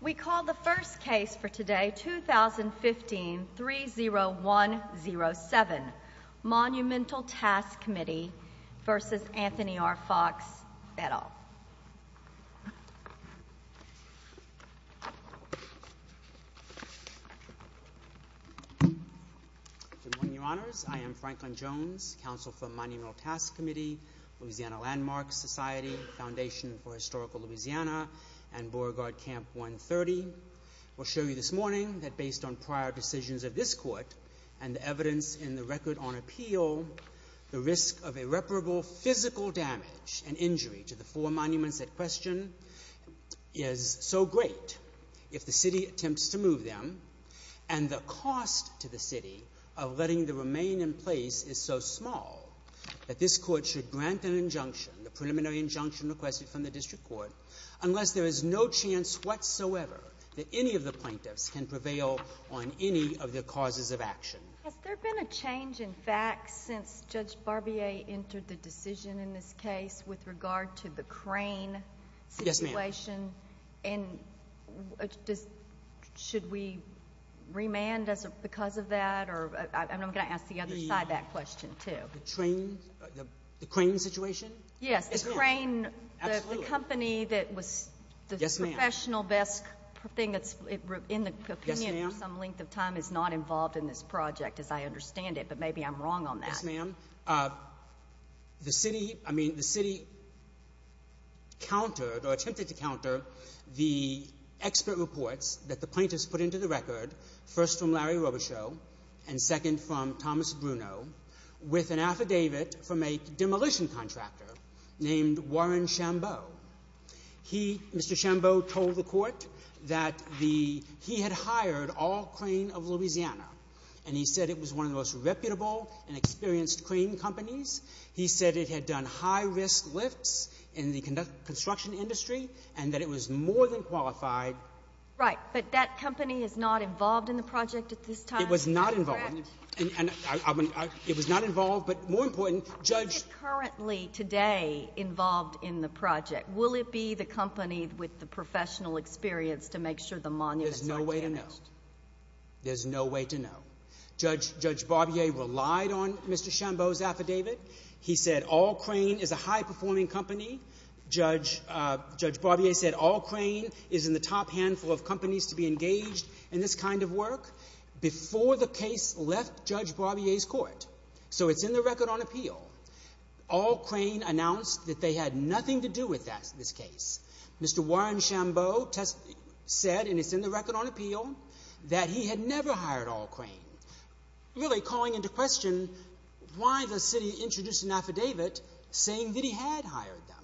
We call the first case for today, 2015-30107, Monumental Task Com, Inc. v. Anthony R. Foxx, et al. Good morning, Your Honors. I am Franklin Jones, Counsel for the Monumental Task Committee, Louisiana Landmarks Society, Foundation for Historical Louisiana, and Beauregard Camp 130. I will show you this morning that based on prior decisions of this Court and the evidence in the Record on Appeal, the risk of irreparable physical damage and injury to the four monuments at question is so great if the City attempts to move them, and the cost to the City of letting them remain in place is so small that this Court should grant an injunction, the preliminary injunction requested from the District Court, unless there is no chance whatsoever that any of the plaintiffs can prevail on any of the causes of action. Has there been a change in facts since Judge Barbier entered the decision in this case with regard to the crane situation? Yes, ma'am. And should we remand because of that? I'm going to ask the other side that question too. The crane situation? Yes. Yes, ma'am. The crane, the company that was the professional best thing in the opinion for some length of time is not involved in this project, as I understand it, but maybe I'm wrong on that. Yes, ma'am. The City, I mean, the City countered or attempted to counter the expert reports that the plaintiffs put into the Record, first from Larry Robichaux and second from Thomas Bruno, with an affidavit from a demolition contractor named Warren Shambo. He, Mr. Shambo, told the Court that the — he had hired all crane of Louisiana, and he said it was one of the most reputable and experienced crane companies. He said it had done high-risk lifts in the construction industry and that it was more than qualified. Right. But that company is not involved in the project at this time? It was not involved. Correct. And I — it was not involved, but more important, Judge — Is it currently, today, involved in the project? Will it be the company with the professional experience to make sure the monuments aren't damaged? There's no way to know. There's no way to know. Judge Barbier relied on Mr. Shambo's affidavit. He said all crane is a high-performing company. Judge Barbier said all crane is in the top handful of companies to be engaged in this kind of work before the case left Judge Barbier's Court. So it's in the record on appeal. All crane announced that they had nothing to do with this case. Mr. Warren Shambo said — and it's in the record on appeal — that he had never hired all crane, really calling into question why the city introduced an affidavit saying that he had hired them.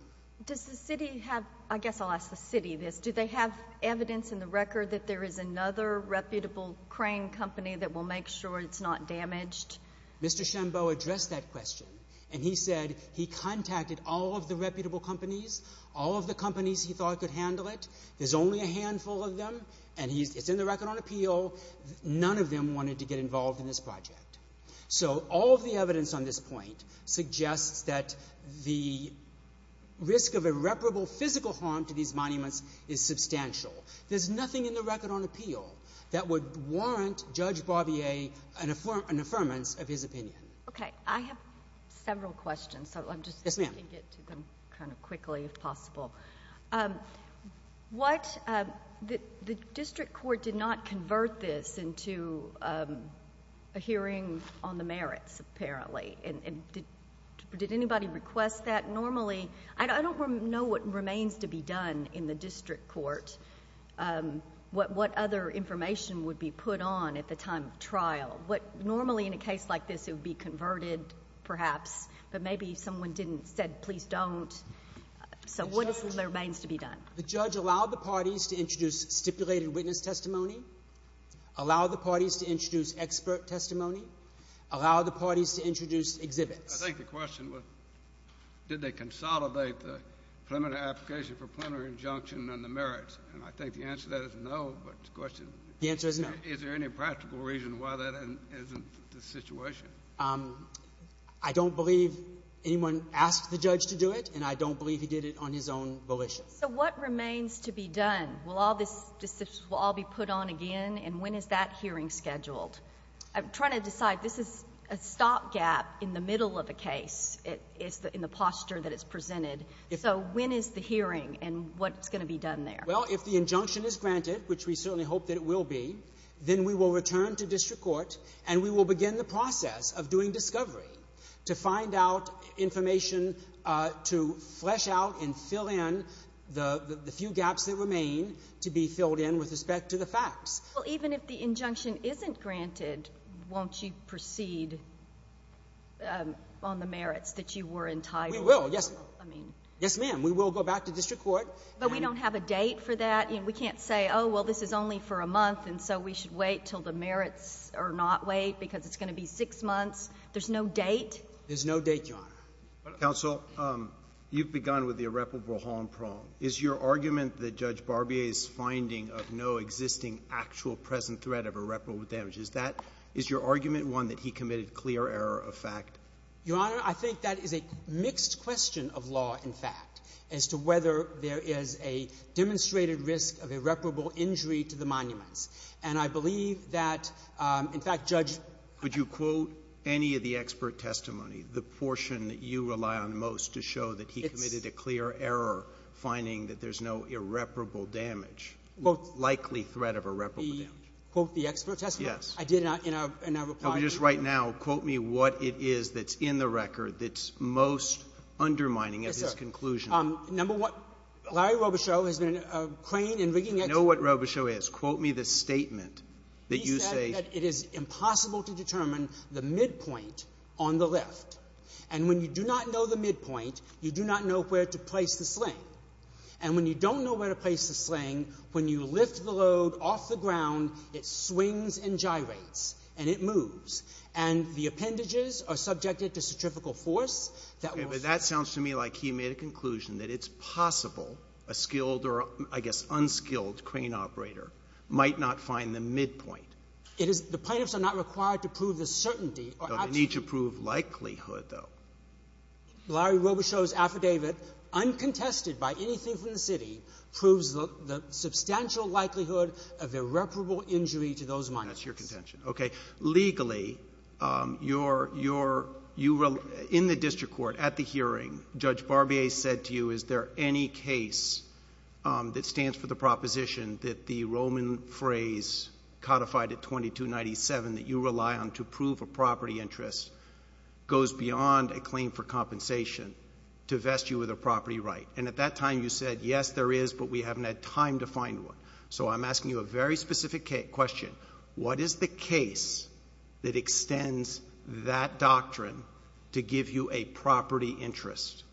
Does the city have — I guess I'll ask the city this. Do they have evidence in the record that there is another reputable crane company that will make sure it's not damaged? Mr. Shambo addressed that question, and he said he contacted all of the reputable companies, all of the companies he thought could handle it. There's only a handful of them, and it's in the record on appeal. None of them wanted to get involved in this project. So all of the evidence on this point suggests that the risk of irreparable physical harm to these monuments is substantial. There's nothing in the record on appeal that would warrant Judge Barbier an affirmance of his opinion. Okay. I have several questions, so I'm just — Yes, ma'am. — getting to them kind of quickly, if possible. What — the district court did not convert this into a hearing on the merits, apparently. And did anybody request that? I don't know what remains to be done in the district court, what other information would be put on at the time of trial. Normally, in a case like this, it would be converted, perhaps. But maybe someone didn't — said, please don't. So what remains to be done? The judge allowed the parties to introduce stipulated witness testimony, allowed the parties to introduce expert testimony, allowed the parties to introduce exhibits. I think the question was, did they consolidate the preliminary application for preliminary injunction on the merits? And I think the answer to that is no, but the question — The answer is no. Is there any practical reason why that isn't the situation? I don't believe anyone asked the judge to do it, and I don't believe he did it on his own volition. So what remains to be done? Will all this — will all be put on again? And when is that hearing scheduled? I'm trying to decide. This is a stopgap in the middle of a case, in the posture that it's presented. So when is the hearing, and what's going to be done there? Well, if the injunction is granted, which we certainly hope that it will be, then we will return to district court, and we will begin the process of doing discovery to find out information to flesh out and fill in the few gaps that remain to be filled in with respect to the facts. Well, even if the injunction isn't granted, won't you proceed on the merits that you were entitled to? We will. Yes, ma'am. Yes, ma'am. We will go back to district court. But we don't have a date for that? I mean, we can't say, oh, well, this is only for a month, and so we should wait until the merits are not wait because it's going to be six months. There's no date? There's no date, Your Honor. Counsel, you've begun with the irreparable harm problem. Is your argument that Judge Barbier's finding of no existing actual present threat of irreparable damage, is that — is your argument one that he committed clear error of fact? Your Honor, I think that is a mixed question of law, in fact, as to whether there is a demonstrated risk of irreparable injury to the monuments. And I believe that, in fact, Judge — Would you quote any of the expert testimony, the portion that you rely on most to show that he committed a clear error, finding that there's no irreparable damage, likely threat of irreparable damage? Quote the expert testimony? Yes. I did not, in our — Just right now, quote me what it is that's in the record that's most undermining of his conclusion. Yes, sir. Number one, Larry Robichaud has been a crane in rigging experts. I know what Robichaud is. Quote me the statement that you say — He said that it is impossible to determine the midpoint on the left. And when you do not know the midpoint, you do not know where to place the sling. And when you don't know where to place the sling, when you lift the load off the ground, it swings and gyrates, and it moves. And the appendages are subjected to centrifugal force that will — Okay. But that sounds to me like he made a conclusion that it's possible a skilled or, I guess, unskilled crane operator might not find the midpoint. It is — the plaintiffs are not required to prove the certainty — They need to prove likelihood, though. Larry Robichaud's affidavit, uncontested by anything from the city, proves the substantial likelihood of irreparable injury to those miners. That's your contention. Okay. Legally, you're — in the district court, at the hearing, Judge Barbier said to you, is there any case that stands for the proposition that the Roman phrase codified at 2297 that you rely on to prove a property interest goes beyond a claim for compensation to vest you with a property right? And at that time, you said, yes, there is, but we haven't had time to find one. So I'm asking you a very specific question. What is the case that extends that doctrine to give you a property interest?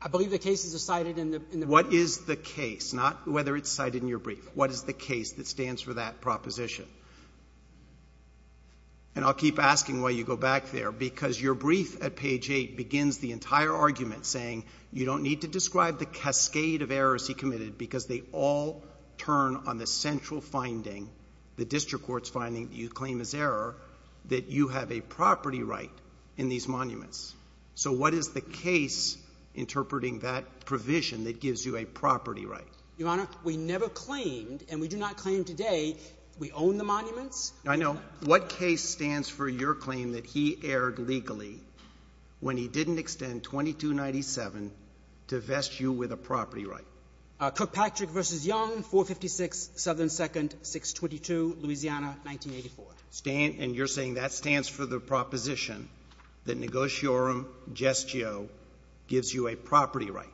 I believe the cases are cited in the brief. Not whether it's cited in your brief. What is the case that stands for that proposition? And I'll keep asking while you go back there, because your brief at page 8 begins the entire argument saying you don't need to describe the cascade of errors he committed because they all turn on the central finding, the district court's finding that you claim is error, that you have a property right in these monuments. So what is the case interpreting that provision that gives you a property right? Your Honor, we never claimed, and we do not claim today, we own the monuments. I know. What case stands for your claim that he erred legally when he didn't extend 2297 to vest you with a property right? Cook-Patrick v. Young, 456 Southern 2nd, 622 Louisiana, 1984. And you're saying that stands for the proposition that negotiorum gestio gives you a property right?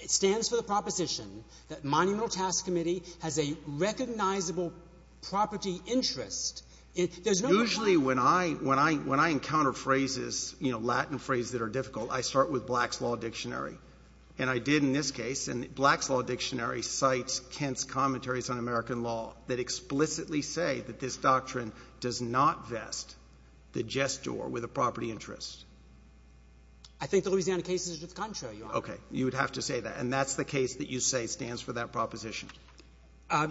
It stands for the proposition that Monumental Task Committee has a recognizable property interest. Usually when I encounter phrases, you know, Latin phrases that are difficult, I start with Black's Law Dictionary. And I did in this case, and Black's Law Dictionary cites Kent's commentaries on American law that explicitly say that this doctrine does not vest the gestor with a property interest. I think the Louisiana case is just contrary, Your Honor. Okay. You would have to say that. And that's the case that you say stands for that proposition?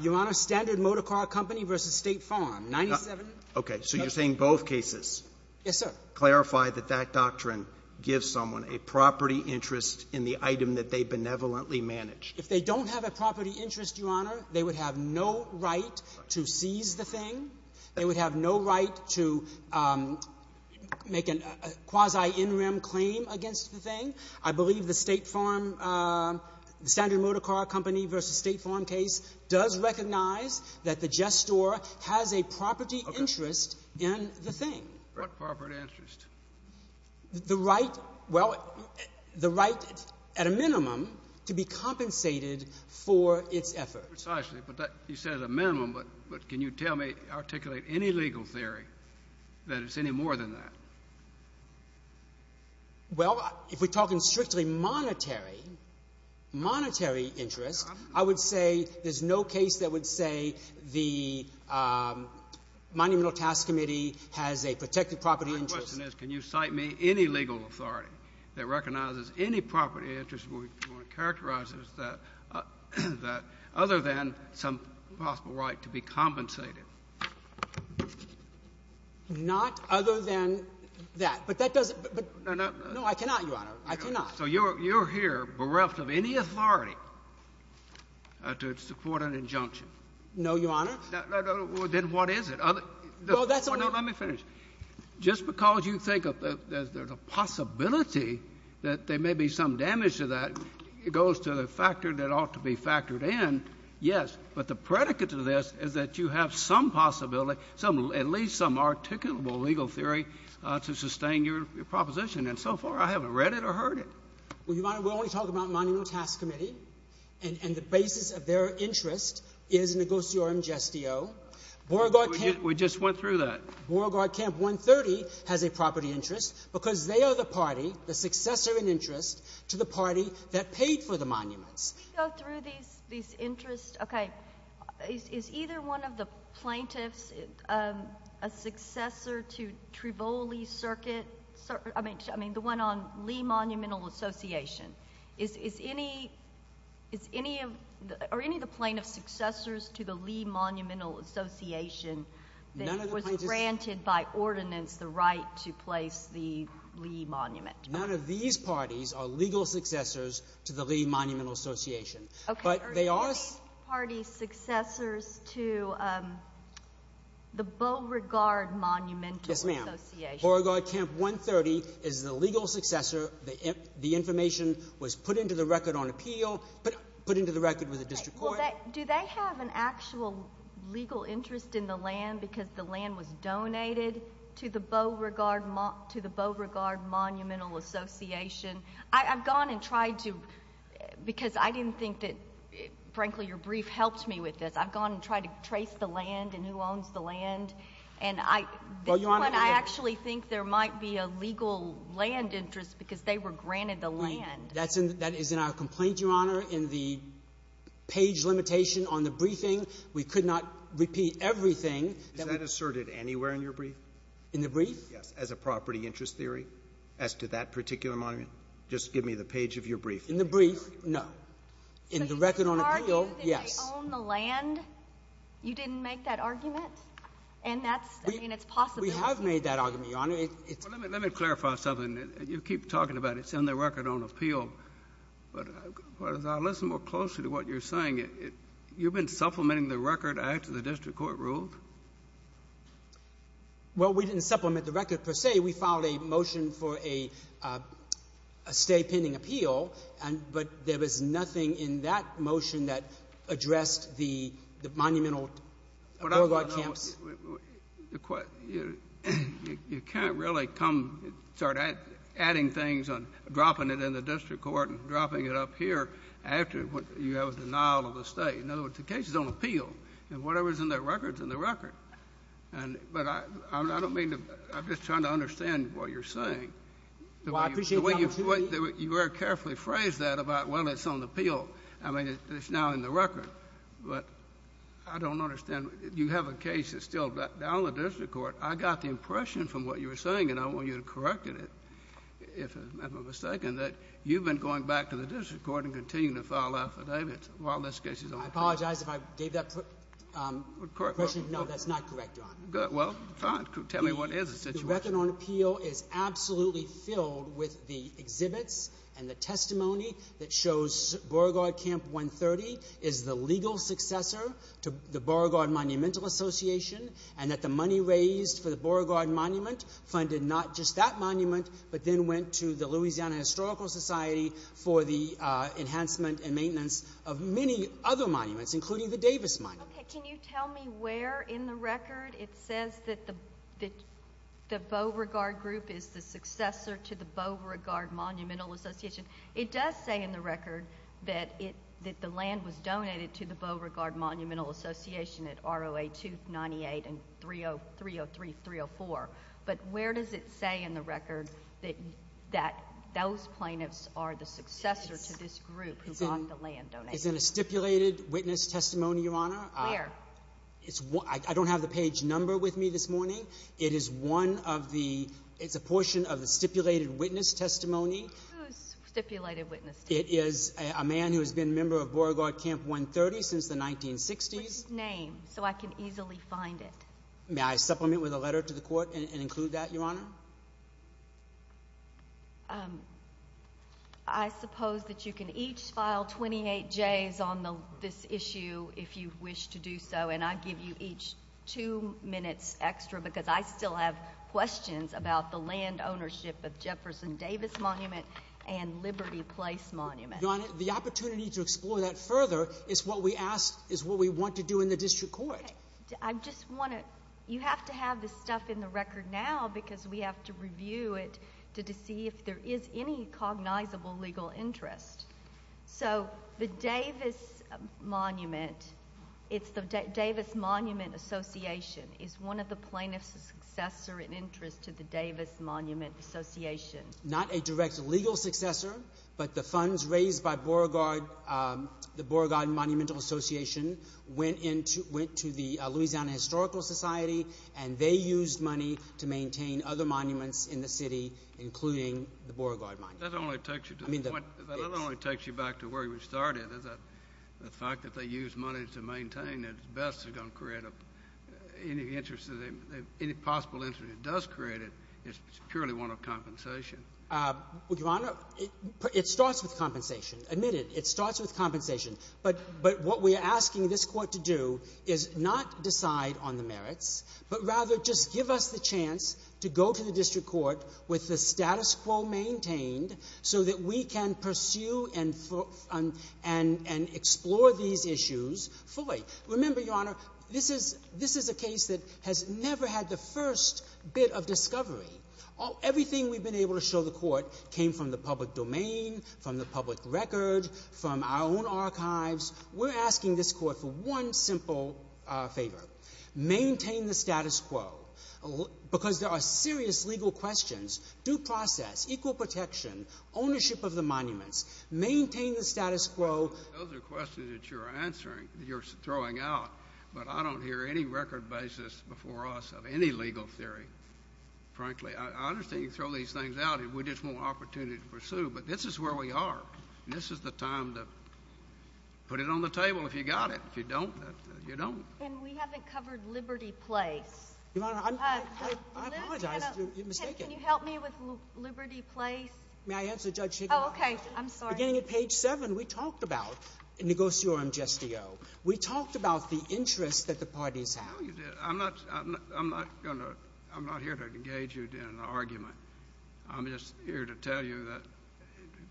Your Honor, Standard Motor Car Company v. State Farm, 97. Okay. So you're saying both cases. Yes, sir. Clarify that that doctrine gives someone a property interest in the item that they benevolently manage. If they don't have a property interest, Your Honor, they would have no right to seize the thing. They would have no right to make a quasi-in-rim claim against the thing. I believe the State Farm, Standard Motor Car Company v. State Farm case does recognize that the gestor has a property interest in the thing. What property interest? The right, well, the right at a minimum to be compensated for its effort. Precisely. But you said at a minimum. But can you tell me, articulate any legal theory that it's any more than that? Well, if we're talking strictly monetary, monetary interest, I would say there's no case that would say the Monumental Task Committee has a protected property interest. My question is can you cite me any legal authority that recognizes any property interest where it characterizes that other than some possible right to be compensated? Not other than that. But that doesn't — No, no. No, I cannot, Your Honor. I cannot. So you're here bereft of any authority to support an injunction? No, Your Honor. Then what is it? Well, that's only — No, let me finish. Just because you think that there's a possibility that there may be some damage to that, it goes to the factor that ought to be factored in, yes. But the predicate to this is that you have some possibility, at least some articulable legal theory to sustain your proposition. And so far, I haven't read it or heard it. Well, Your Honor, we're only talking about the Monumental Task Committee. And the basis of their interest is Negotiorum Gestio. Beauregard Camp — We just went through that. Beauregard Camp 130 has a property interest because they are the party, the successor in interest to the party that paid for the monuments. Can we go through these interests? Okay. Is either one of the plaintiffs a successor to Trivoli Circuit? I mean, the one on Lee Monumental Association. Is any of the plaintiffs successors to the Lee Monumental Association that was granted by ordinance the right to place the Lee Monument? None of these parties are legal successors to the Lee Monumental Association. Okay. Are any of these parties successors to the Beauregard Monumental Association? Yes, ma'am. Beauregard Camp 130 is the legal successor. The information was put into the record on appeal, put into the record with the district court. Do they have an actual legal interest in the land because the land was donated to the Beauregard Monumental Association? I've gone and tried to — because I didn't think that, frankly, your brief helped me with this. I've gone and tried to trace the land and who owns the land. And I — Well, Your Honor — This one, I actually think there might be a legal land interest because they were granted the land. That is in our complaint, Your Honor, in the page limitation on the briefing. We could not repeat everything that we — Is that asserted anywhere in your brief? In the brief? Yes, as a property interest theory as to that particular monument. Just give me the page of your brief. In the brief, no. In the record on appeal, yes. So you argue that they own the land? You didn't make that argument? And that's — I mean, it's possible. We have made that argument, Your Honor. Let me clarify something. You keep talking about it's in the record on appeal. But as I listen more closely to what you're saying, you've been supplementing the record after the district court ruled? Well, we didn't supplement the record per se. We filed a motion for a stay pending appeal. But there was nothing in that motion that addressed the monumental — What I want to know — You can't really come — start adding things on — dropping it in the district court and dropping it up here after you have a denial of a stay. In other words, the case is on appeal. And whatever is in that record is in the record. But I don't mean to — I'm just trying to understand what you're saying. Well, I appreciate what you're saying. You very carefully phrased that about whether it's on appeal. I mean, it's now in the record. But I don't understand. You have a case that's still down in the district court. I got the impression from what you were saying, and I want you to correct it if I'm mistaken, that you've been going back to the district court and continuing to file affidavits while this case is on appeal. I apologize if I gave that question. No, that's not correct, Your Honor. Well, fine. Tell me what is the situation. The record on appeal is absolutely filled with the exhibits and the testimony that shows Beauregard Camp 130 is the legal successor to the Beauregard Monumental Association funded not just that monument but then went to the Louisiana Historical Society for the enhancement and maintenance of many other monuments, including the Davis Monument. Okay. Can you tell me where in the record it says that the Beauregard Group is the successor to the Beauregard Monumental Association? It does say in the record that the land was donated to the Beauregard Monumental Association at ROA 298 and 303-304. But where does it say in the record that those plaintiffs are the successor to this group who bought the land donated? It's in a stipulated witness testimony, Your Honor. Where? I don't have the page number with me this morning. It is a portion of the stipulated witness testimony. Who's stipulated witness testimony? It is a man who has been a member of Beauregard Camp 130 since the 1960s. What's his name so I can easily find it? May I supplement with a letter to the court and include that, Your Honor? I suppose that you can each file 28 Js on this issue if you wish to do so, and I give you each two minutes extra because I still have questions about the land ownership of Jefferson Davis Monument and Liberty Place Monument. Your Honor, the opportunity to explore that further is what we want to do in the district court. Okay. I just want to... You have to have this stuff in the record now because we have to review it to see if there is any cognizable legal interest. So the Davis Monument, it's the Davis Monument Association. Is one of the plaintiffs a successor in interest to the Davis Monument Association? Not a direct legal successor, but the funds raised by Beauregard, the Beauregard Monumental Association, went to the Louisiana Historical Society, and they used money to maintain other monuments in the city, including the Beauregard Monument. That only takes you to the point... That only takes you back to where you started. The fact that they used money to maintain it is best going to create any interest, any possible interest that it does create, it's purely one of compensation. Your Honor, it starts with compensation. Admit it. It starts with compensation. But what we're asking this court to do is not decide on the merits, but rather just give us the chance to go to the district court with the status quo maintained so that we can pursue and explore these issues fully. Remember, Your Honor, this is a case that has never had the first bit of discovery. Everything we've been able to show the court came from the public domain, from the public record, from our own archives. We're asking this court for one simple favor. Maintain the status quo. Because there are serious legal questions. Due process, equal protection, ownership of the monuments. Maintain the status quo. Those are questions that you're throwing out, but I don't hear any record basis before us of any legal theory, frankly. I understand you throw these things out and we just want an opportunity to pursue, but this is where we are, and this is the time to put it on the table if you got it. If you don't, you don't. And we haven't covered Liberty Place. Your Honor, I apologize. You're mistaken. Can you help me with Liberty Place? May I answer Judge Higginbotham? Oh, okay. I'm sorry. Beginning at page 7, we talked about negotiorum gestio. We talked about the interests that the parties have. No, you didn't. I'm not going to... I'm not here to engage you in an argument. I'm just here to tell you that,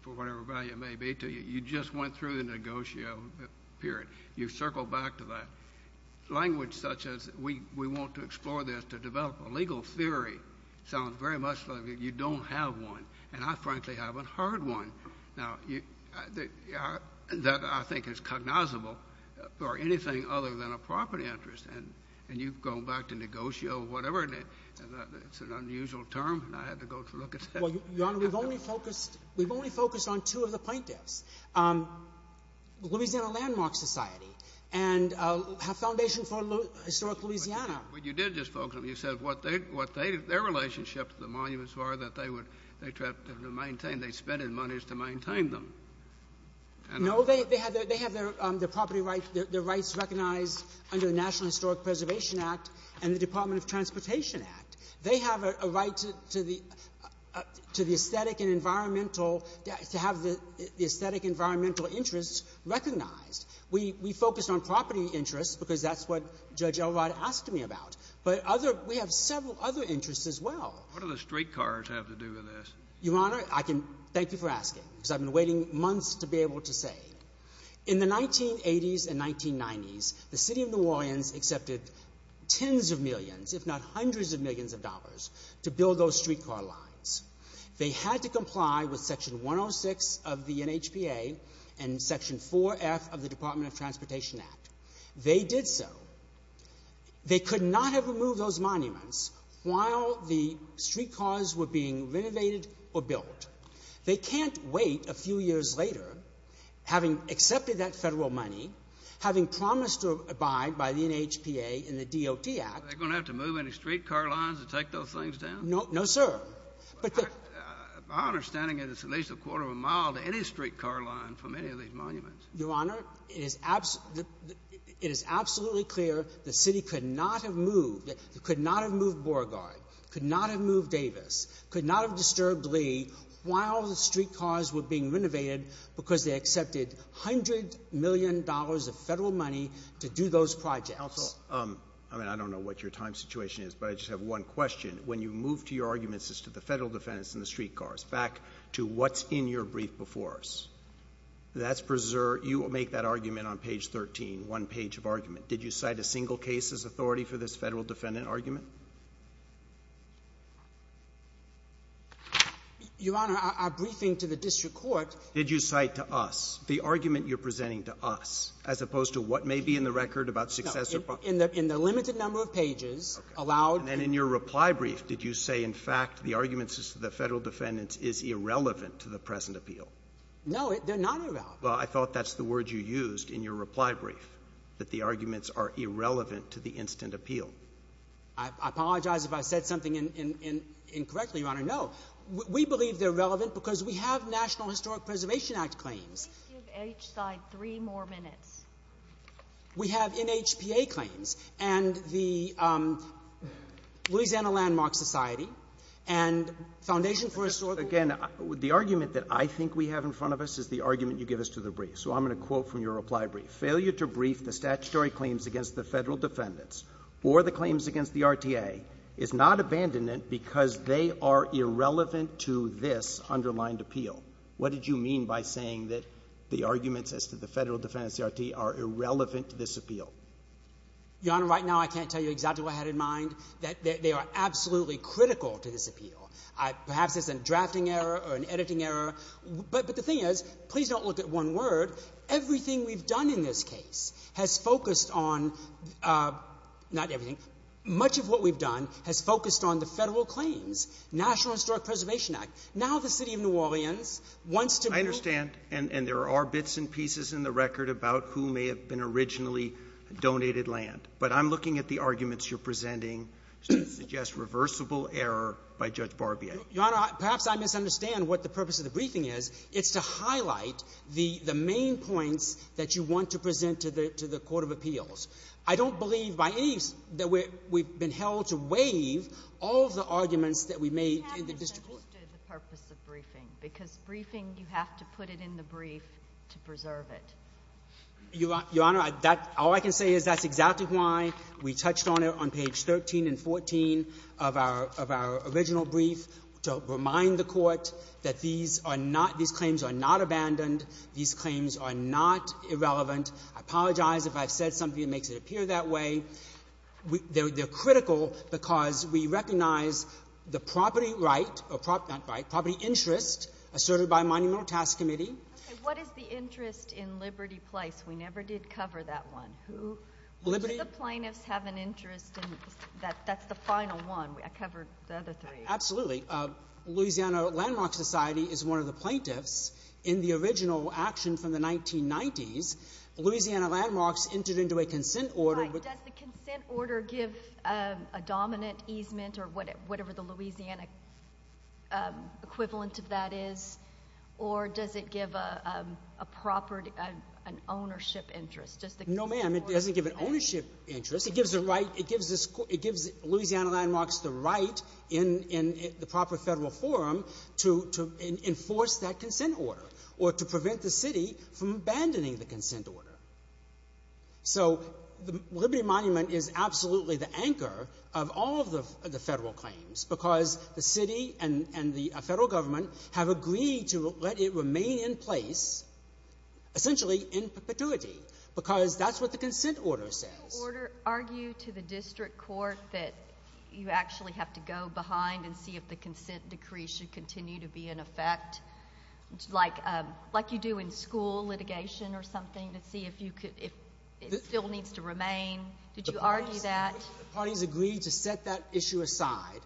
for whatever value it may be to you, you just went through the negotio period. You circled back to that. Language such as we want to explore this to develop a legal theory sounds very much like you don't have one, and I frankly haven't heard one that I think is cognizable or anything other than a property interest, and you've gone back to negotio or whatever. Pardon me. It's an unusual term, and I had to go to look at that. Your Honor, we've only focused on two of the plaintiffs, Louisiana Landmark Society and Foundation for Historic Louisiana. But you did just focus on them. You said what their relationship to the monuments were that they would maintain. They spent money to maintain them. No, they have their property rights, their rights recognized under the National Historic Preservation Act and the Department of Transportation Act. They have a right to the aesthetic and environmental, to have the aesthetic and environmental interests recognized. We focused on property interests because that's what Judge Elrod asked me about. But we have several other interests as well. What do the streetcars have to do with this? Your Honor, I can thank you for asking because I've been waiting months to be able to say. In the 1980s and 1990s, the City of New Orleans accepted tens of millions, if not hundreds of millions of dollars to build those streetcar lines. They had to comply with Section 106 of the NHPA and Section 4F of the Department of Transportation Act. They did so. They could not have removed those monuments while the streetcars were being renovated or built. They can't wait a few years later, having accepted that federal money, having promised to abide by the NHPA and the DOT Act. Are they going to have to move any streetcar lines to take those things down? No, sir. My understanding is it's at least a quarter of a mile to any streetcar line for many of these monuments. Your Honor, it is absolutely clear the City could not have moved Borgard, could not have moved Davis, could not have disturbed Lee while the streetcars were being renovated because they accepted $100 million of federal money to do those projects. Counsel, I mean, I don't know what your time situation is, but I just have one question. When you move to your arguments as to the federal defendants and the streetcars, back to what's in your brief before us, that's preserved. You make that argument on page 13, one page of argument. Did you cite a single case as authority for this federal defendant argument? Your Honor, our briefing to the district court — Did you cite to us the argument you're presenting to us, as opposed to what may be in the record about success or failure? No. In the limited number of pages, allowed — Okay. And then in your reply brief, did you say, in fact, the argument as to the federal defendants is irrelevant to the present appeal? No, they're not irrelevant. Well, I thought that's the word you used in your reply brief, that the arguments are irrelevant to the instant appeal. I apologize if I said something incorrectly, Your Honor. No. We believe they're relevant because we have National Historic Preservation Act claims. Please give each side three more minutes. We have NHPA claims and the Louisiana Landmark Society and Foundation for Historic — Again, the argument that I think we have in front of us is the argument you give us to the brief. So I'm going to quote from your reply brief. Failure to brief the statutory claims against the federal defendants or the claims against the RTA is not abandonment because they are irrelevant to this underlined appeal. What did you mean by saying that the arguments as to the federal defendants, the RTA, are irrelevant to this appeal? Your Honor, right now I can't tell you exactly what I had in mind. They are absolutely critical to this appeal. Perhaps it's a drafting error or an editing error. But the thing is, please don't look at one word. Everything we've done in this case has focused on—not everything. Much of what we've done has focused on the federal claims, National Historic Preservation Act. Now the city of New Orleans wants to move— I understand, and there are bits and pieces in the record about who may have been originally donated land. But I'm looking at the arguments you're presenting to suggest reversible error by Judge Barbier. Your Honor, perhaps I misunderstand what the purpose of the briefing is. It's to highlight the main points that you want to present to the court of appeals. I don't believe by any—that we've been held to waive all of the arguments that we made in the district court. We haven't suggested the purpose of briefing because briefing, you have to put it in the brief to preserve it. Your Honor, that—all I can say is that's exactly why we touched on it on page 13 and 14 of our original brief, to remind the court that these are not—these claims are not abandoned. These claims are not irrelevant. I apologize if I've said something that makes it appear that way. They're critical because we recognize the property right—not right—property interest asserted by Monumental Task Committee. Okay, what is the interest in Liberty Place? We never did cover that one. Who—do the plaintiffs have an interest in—that's the final one. I covered the other three. Absolutely. Louisiana Landmarks Society is one of the plaintiffs. In the original action from the 1990s, the Louisiana Landmarks entered into a consent order. Right. Does the consent order give a dominant easement or whatever the Louisiana equivalent of that is? Or does it give a property—an ownership interest? No, ma'am, it doesn't give an ownership interest. It gives the right—it gives Louisiana Landmarks the right in the proper federal forum to enforce that consent order or to prevent the city from abandoning the consent order. So the Liberty Monument is absolutely the anchor of all of the federal claims because the city and the federal government have agreed to let it remain in place essentially in perpetuity because that's what the consent order says. Did the order argue to the district court that you actually have to go behind and see if the consent decree should continue to be in effect, like you do in school litigation or something to see if you could—if it still needs to remain? Did you argue that? The parties agreed to set that issue aside.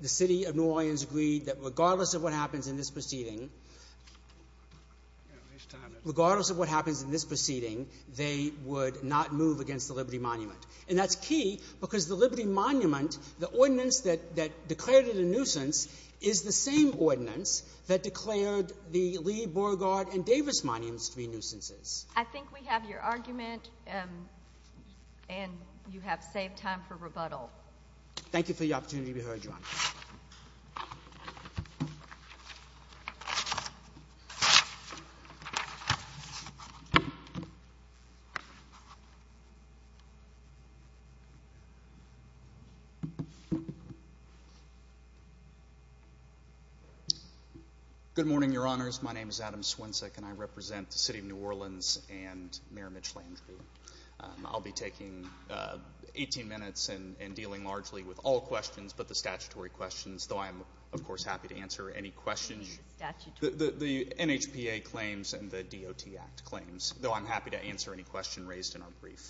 The city of New Orleans agreed that regardless of what happens in this proceeding, regardless of what happens in this proceeding, they would not move against the Liberty Monument. And that's key because the Liberty Monument, the ordinance that declared it a nuisance, is the same ordinance that declared the Lee, Beauregard, and Davis monuments to be nuisances. I think we have your argument, and you have saved time for rebuttal. Thank you for the opportunity to be heard, Your Honor. Good morning, Your Honors. My name is Adam Swincik, and I represent the city of New Orleans and Mayor Mitch Landrieu. I'll be taking 18 minutes and dealing largely with all questions but the statutory questions, though I am, of course, happy to answer any questions. The NHPA claims and the DOT Act claims, though I'm happy to answer any question raised in our brief.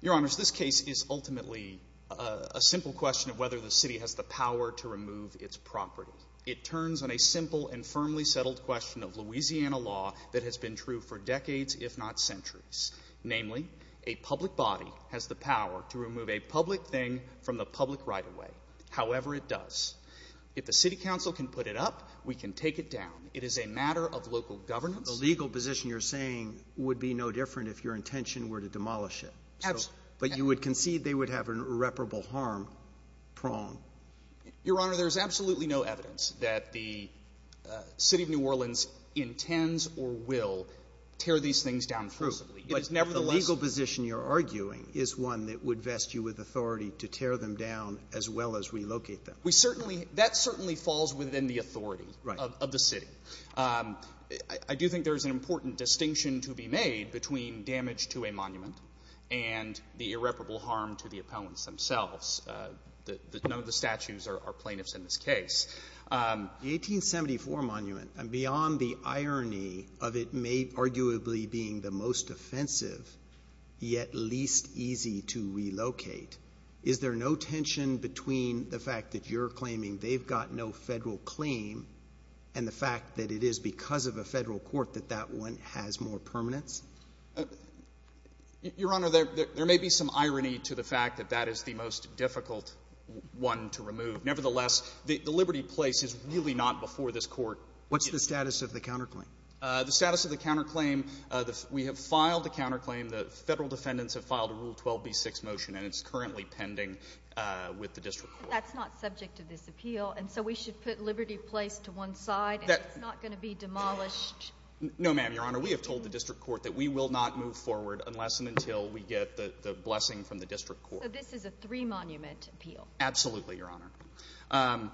Your Honors, this case is ultimately a simple question of whether the city has the power to remove its property. It turns on a simple and firmly settled question of Louisiana law that has been true for decades, if not centuries. Namely, a public body has the power to remove a public thing from the public right-of-way, however it does. If the city council can put it up, we can take it down. It is a matter of local governance. The legal position you're saying would be no different if your intention were to demolish it. Absolutely. But you would concede they would have an irreparable harm prong. Your Honor, there is absolutely no evidence that the city of New Orleans intends or will tear these things down forcibly. True. But nevertheless – The legal position you're arguing is one that would vest you with authority to tear them down as well as relocate them. We certainly – that certainly falls within the authority of the city. I do think there is an important distinction to be made between damage to a monument and the irreparable harm to the opponents themselves. None of the statues are plaintiffs in this case. The 1874 monument, beyond the irony of it arguably being the most offensive, yet least easy to relocate, is there no tension between the fact that you're claiming they've got no Federal claim and the fact that it is because of a Federal court that that one has more permanence? Your Honor, there may be some irony to the fact that that is the most difficult one to remove. Nevertheless, the Liberty Place is really not before this court. What's the status of the counterclaim? The status of the counterclaim, we have filed a counterclaim. The Federal defendants have filed a Rule 12b6 motion, and it's currently pending with the district court. But that's not subject to this appeal, and so we should put Liberty Place to one side, and it's not going to be demolished. No, ma'am, Your Honor. We have told the district court that we will not move forward unless and until we get the blessing from the district court. So this is a three-monument appeal? Absolutely, Your Honor.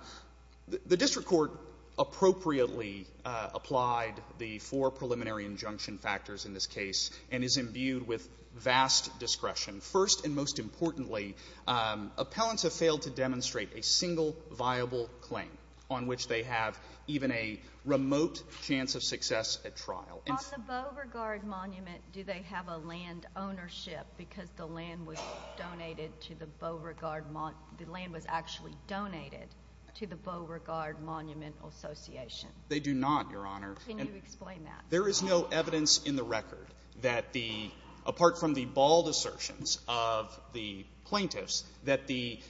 The district court appropriately applied the four preliminary injunction factors in this case and is imbued with vast discretion. First and most importantly, appellants have failed to demonstrate a single viable claim on which they have even a remote chance of success at trial. On the Beauregard Monument, do they have a land ownership because the land was donated to the Beauregard Mon — the land was actually donated to the Beauregard Monumental Association? They do not, Your Honor. Can you explain that? There is no evidence in the record that the — apart from the bald assertions of the plaintiffs — that the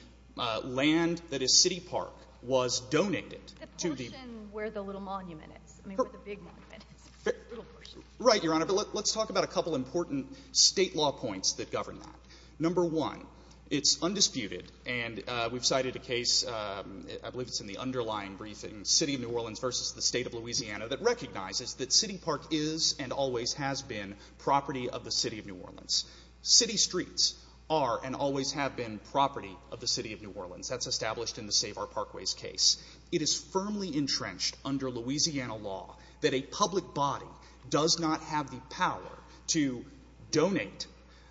land that is City Park was donated to the — The portion where the little monument is. I mean, where the big monument is. The little portion. Right, Your Honor. But let's talk about a couple important State law points that govern that. Number one, it's undisputed, and we've cited a case, I believe it's in the underlying briefing, City of New Orleans v. the State of Louisiana, that recognizes that City Park is and always has been property of the City of New Orleans. City streets are and always have been property of the City of New Orleans. That's established in the Save Our Parkways case. It is firmly entrenched under Louisiana law that a public body does not have the power to donate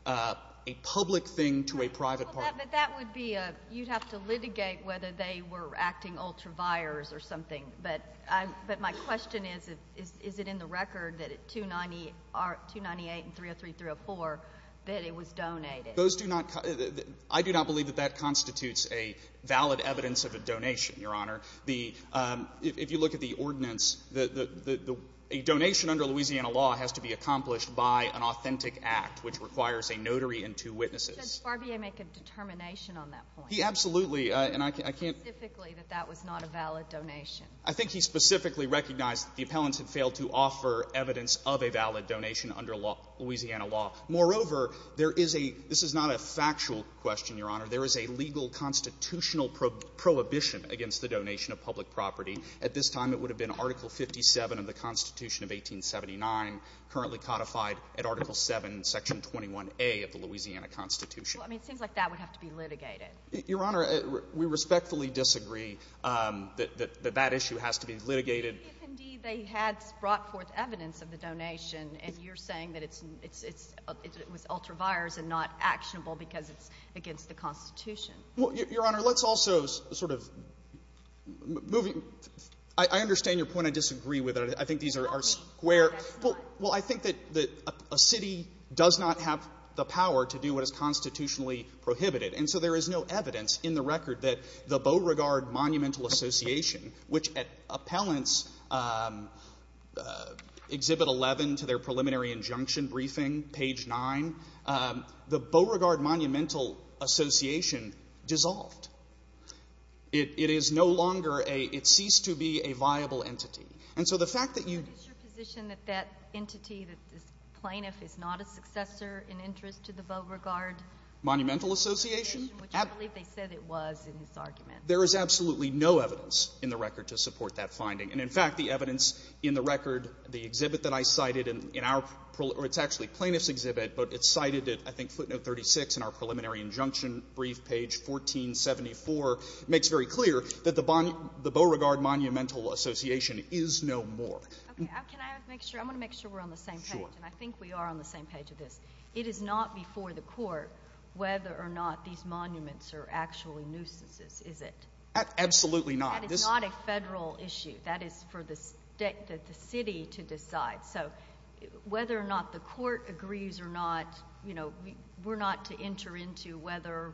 a public thing to a private party. But that would be a — you'd have to litigate whether they were acting ultra-vires or something. But my question is, is it in the record that at 298 and 303-304 that it was donated? Those do not — I do not believe that that constitutes a valid evidence of a donation, Your Honor. If you look at the ordinance, a donation under Louisiana law has to be accomplished by an authentic act, which requires a notary and two witnesses. Does Barbier make a determination on that point? He absolutely, and I can't — He said specifically that that was not a valid donation. I think he specifically recognized that the appellants had failed to offer evidence of a valid donation under Louisiana law. Moreover, there is a — this is not a factual question, Your Honor. There is a legal constitutional prohibition against the donation of public property. At this time, it would have been Article 57 of the Constitution of 1879, currently codified at Article 7, Section 21A of the Louisiana Constitution. Well, I mean, it seems like that would have to be litigated. Your Honor, we respectfully disagree that that issue has to be litigated. But what if, indeed, they had brought forth evidence of the donation, and you're saying that it's — it was ultra-vires and not actionable because it's against the Constitution? Well, Your Honor, let's also sort of — moving — I understand your point. I disagree with it. I think these are square. Well, I think that a city does not have the power to do what is constitutionally prohibited. And so there is no evidence in the record that the Beauregard Monumental Association, which at appellants' Exhibit 11 to their preliminary injunction briefing, page 9, the Beauregard Monumental Association dissolved. It is no longer a — it ceased to be a viable entity. And so the fact that you — But is your position that that entity, that this plaintiff, is not a successor in interest to the Beauregard — Monumental Association? Which I believe they said it was in this argument. There is absolutely no evidence in the record to support that finding. And, in fact, the evidence in the record, the exhibit that I cited in our — or it's actually plaintiff's exhibit, but it's cited at, I think, footnote 36 in our preliminary injunction brief, page 1474, makes very clear that the Beauregard Monumental Association is no more. Okay. Can I make sure? I want to make sure we're on the same page. Sure. And I think we are on the same page with this. It is not before the court whether or not these monuments are actually nuisances, is it? Absolutely not. That is not a federal issue. That is for the state — the city to decide. So whether or not the court agrees or not, you know, we're not to enter into whether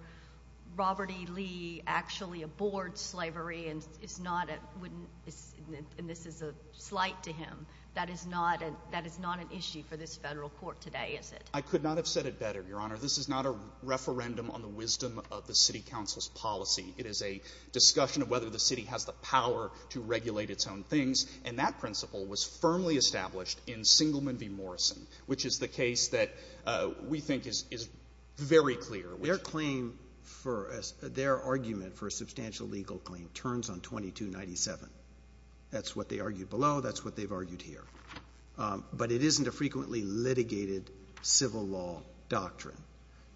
Robert E. Lee actually abhors slavery and is not a — wouldn't — and this is a slight to him — that is not an issue for this federal court today, is it? I could not have said it better, Your Honor. This is not a referendum on the wisdom of the city council's policy. It is a discussion of whether the city has the power to regulate its own things. And that principle was firmly established in Singleman v. Morrison, which is the case that we think is very clear. Their claim for — their argument for a substantial legal claim turns on 2297. That's what they argued below. That's what they've argued here. But it isn't a frequently litigated civil law doctrine.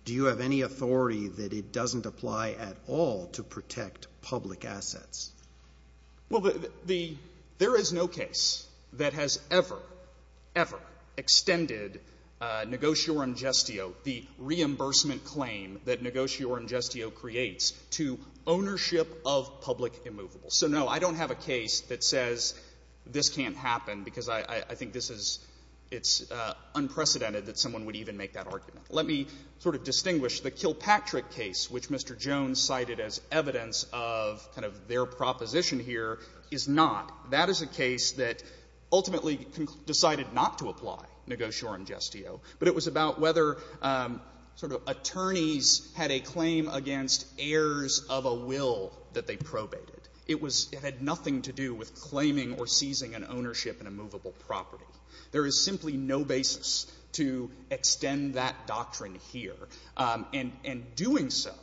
Do you have any authority that it doesn't apply at all to protect public assets? Well, the — there is no case that has ever, ever extended negotiorum gestio, the reimbursement claim that negotiorum gestio creates, to ownership of public immovable. So, no, I don't have a case that says this can't happen because I think this is — it's unprecedented that someone would even make that argument. Let me sort of distinguish. The Kilpatrick case, which Mr. Jones cited as evidence of kind of their proposition here, is not. That is a case that ultimately decided not to apply negotiorum gestio, but it was about whether sort of attorneys had a claim against heirs of a will that they probated. It was — it had nothing to do with claiming or seizing an ownership in a movable property. There is simply no basis to extend that doctrine here. And doing so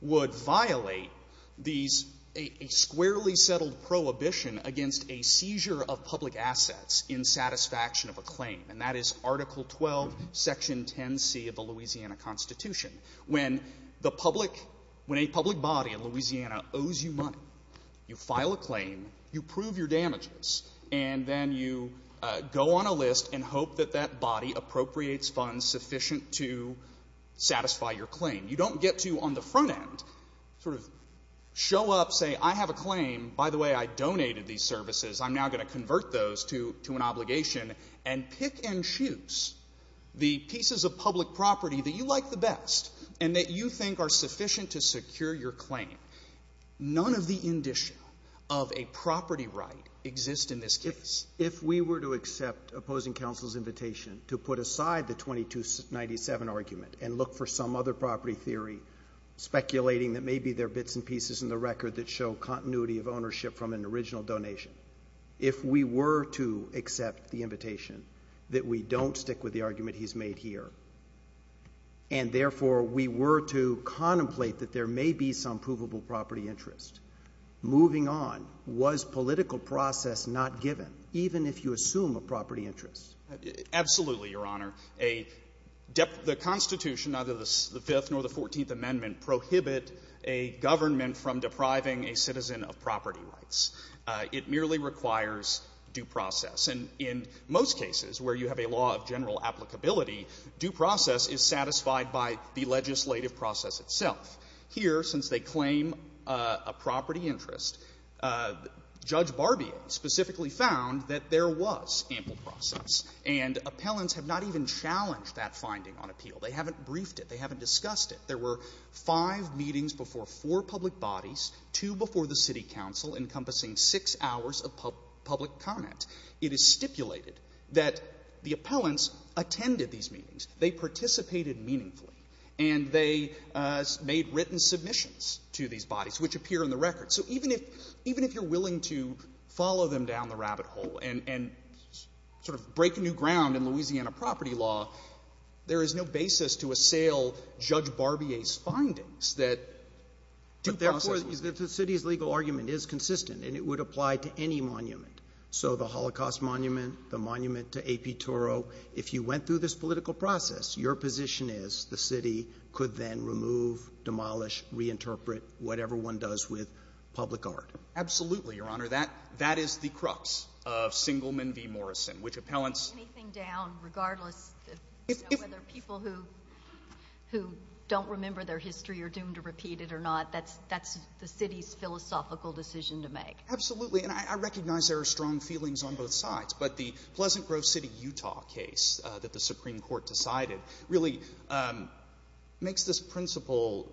would violate these — a squarely settled prohibition against a seizure of public assets in satisfaction of a claim. And that is Article 12, Section 10c of the Louisiana Constitution. When the public — when a public body in Louisiana owes you money, you file a claim, you prove your damages, and then you go on a list and hope that that body appropriates funds sufficient to satisfy your claim. You don't get to, on the front end, sort of show up, say, I have a claim. By the way, I donated these services. I'm now going to convert those to an obligation, and pick and choose the pieces of public property that you like the best and that you think are sufficient to secure your claim. None of the indicia of a property right exist in this case. If we were to accept opposing counsel's invitation to put aside the 2297 argument and look for some other property theory speculating that maybe there are bits and pieces in the record that show continuity of ownership from an original donation, if we were to accept the invitation that we don't stick with the argument he's made here, and therefore we were to contemplate that there may be some provable property interest, moving on, was political process not given, even if you assume a property interest? Absolutely, Your Honor. A — the Constitution, either the Fifth or the Fourteenth Amendment, prohibit a government from depriving a citizen of property rights. It merely requires due process. And in most cases where you have a law of general applicability, due process is satisfied by the legislative process itself. Here, since they claim a property interest, Judge Barbier specifically found that there was ample process. And appellants have not even challenged that finding on appeal. They haven't briefed it. They haven't discussed it. There were five meetings before four public bodies, two before the city council, encompassing six hours of public comment. It is stipulated that the appellants attended these meetings. They participated meaningfully. And they made written submissions to these bodies, which appear in the record. So even if — even if you're willing to follow them down the rabbit hole and sort of break new ground in Louisiana property law, there is no basis to assail Judge Barbier 's findings that due process — But the city's legal argument is consistent, and it would apply to any monument. So the Holocaust monument, the monument to A.P. Toro, if you went through this political process, your position is the city could then remove, demolish, reinterpret whatever one does with public art. Absolutely, Your Honor. That is the crux of Singleman v. Morrison, which appellants — whether you remember their history or are doomed to repeat it or not, that's the city's philosophical decision to make. Absolutely. And I recognize there are strong feelings on both sides. But the Pleasant Grove City, Utah case that the Supreme Court decided really makes this principle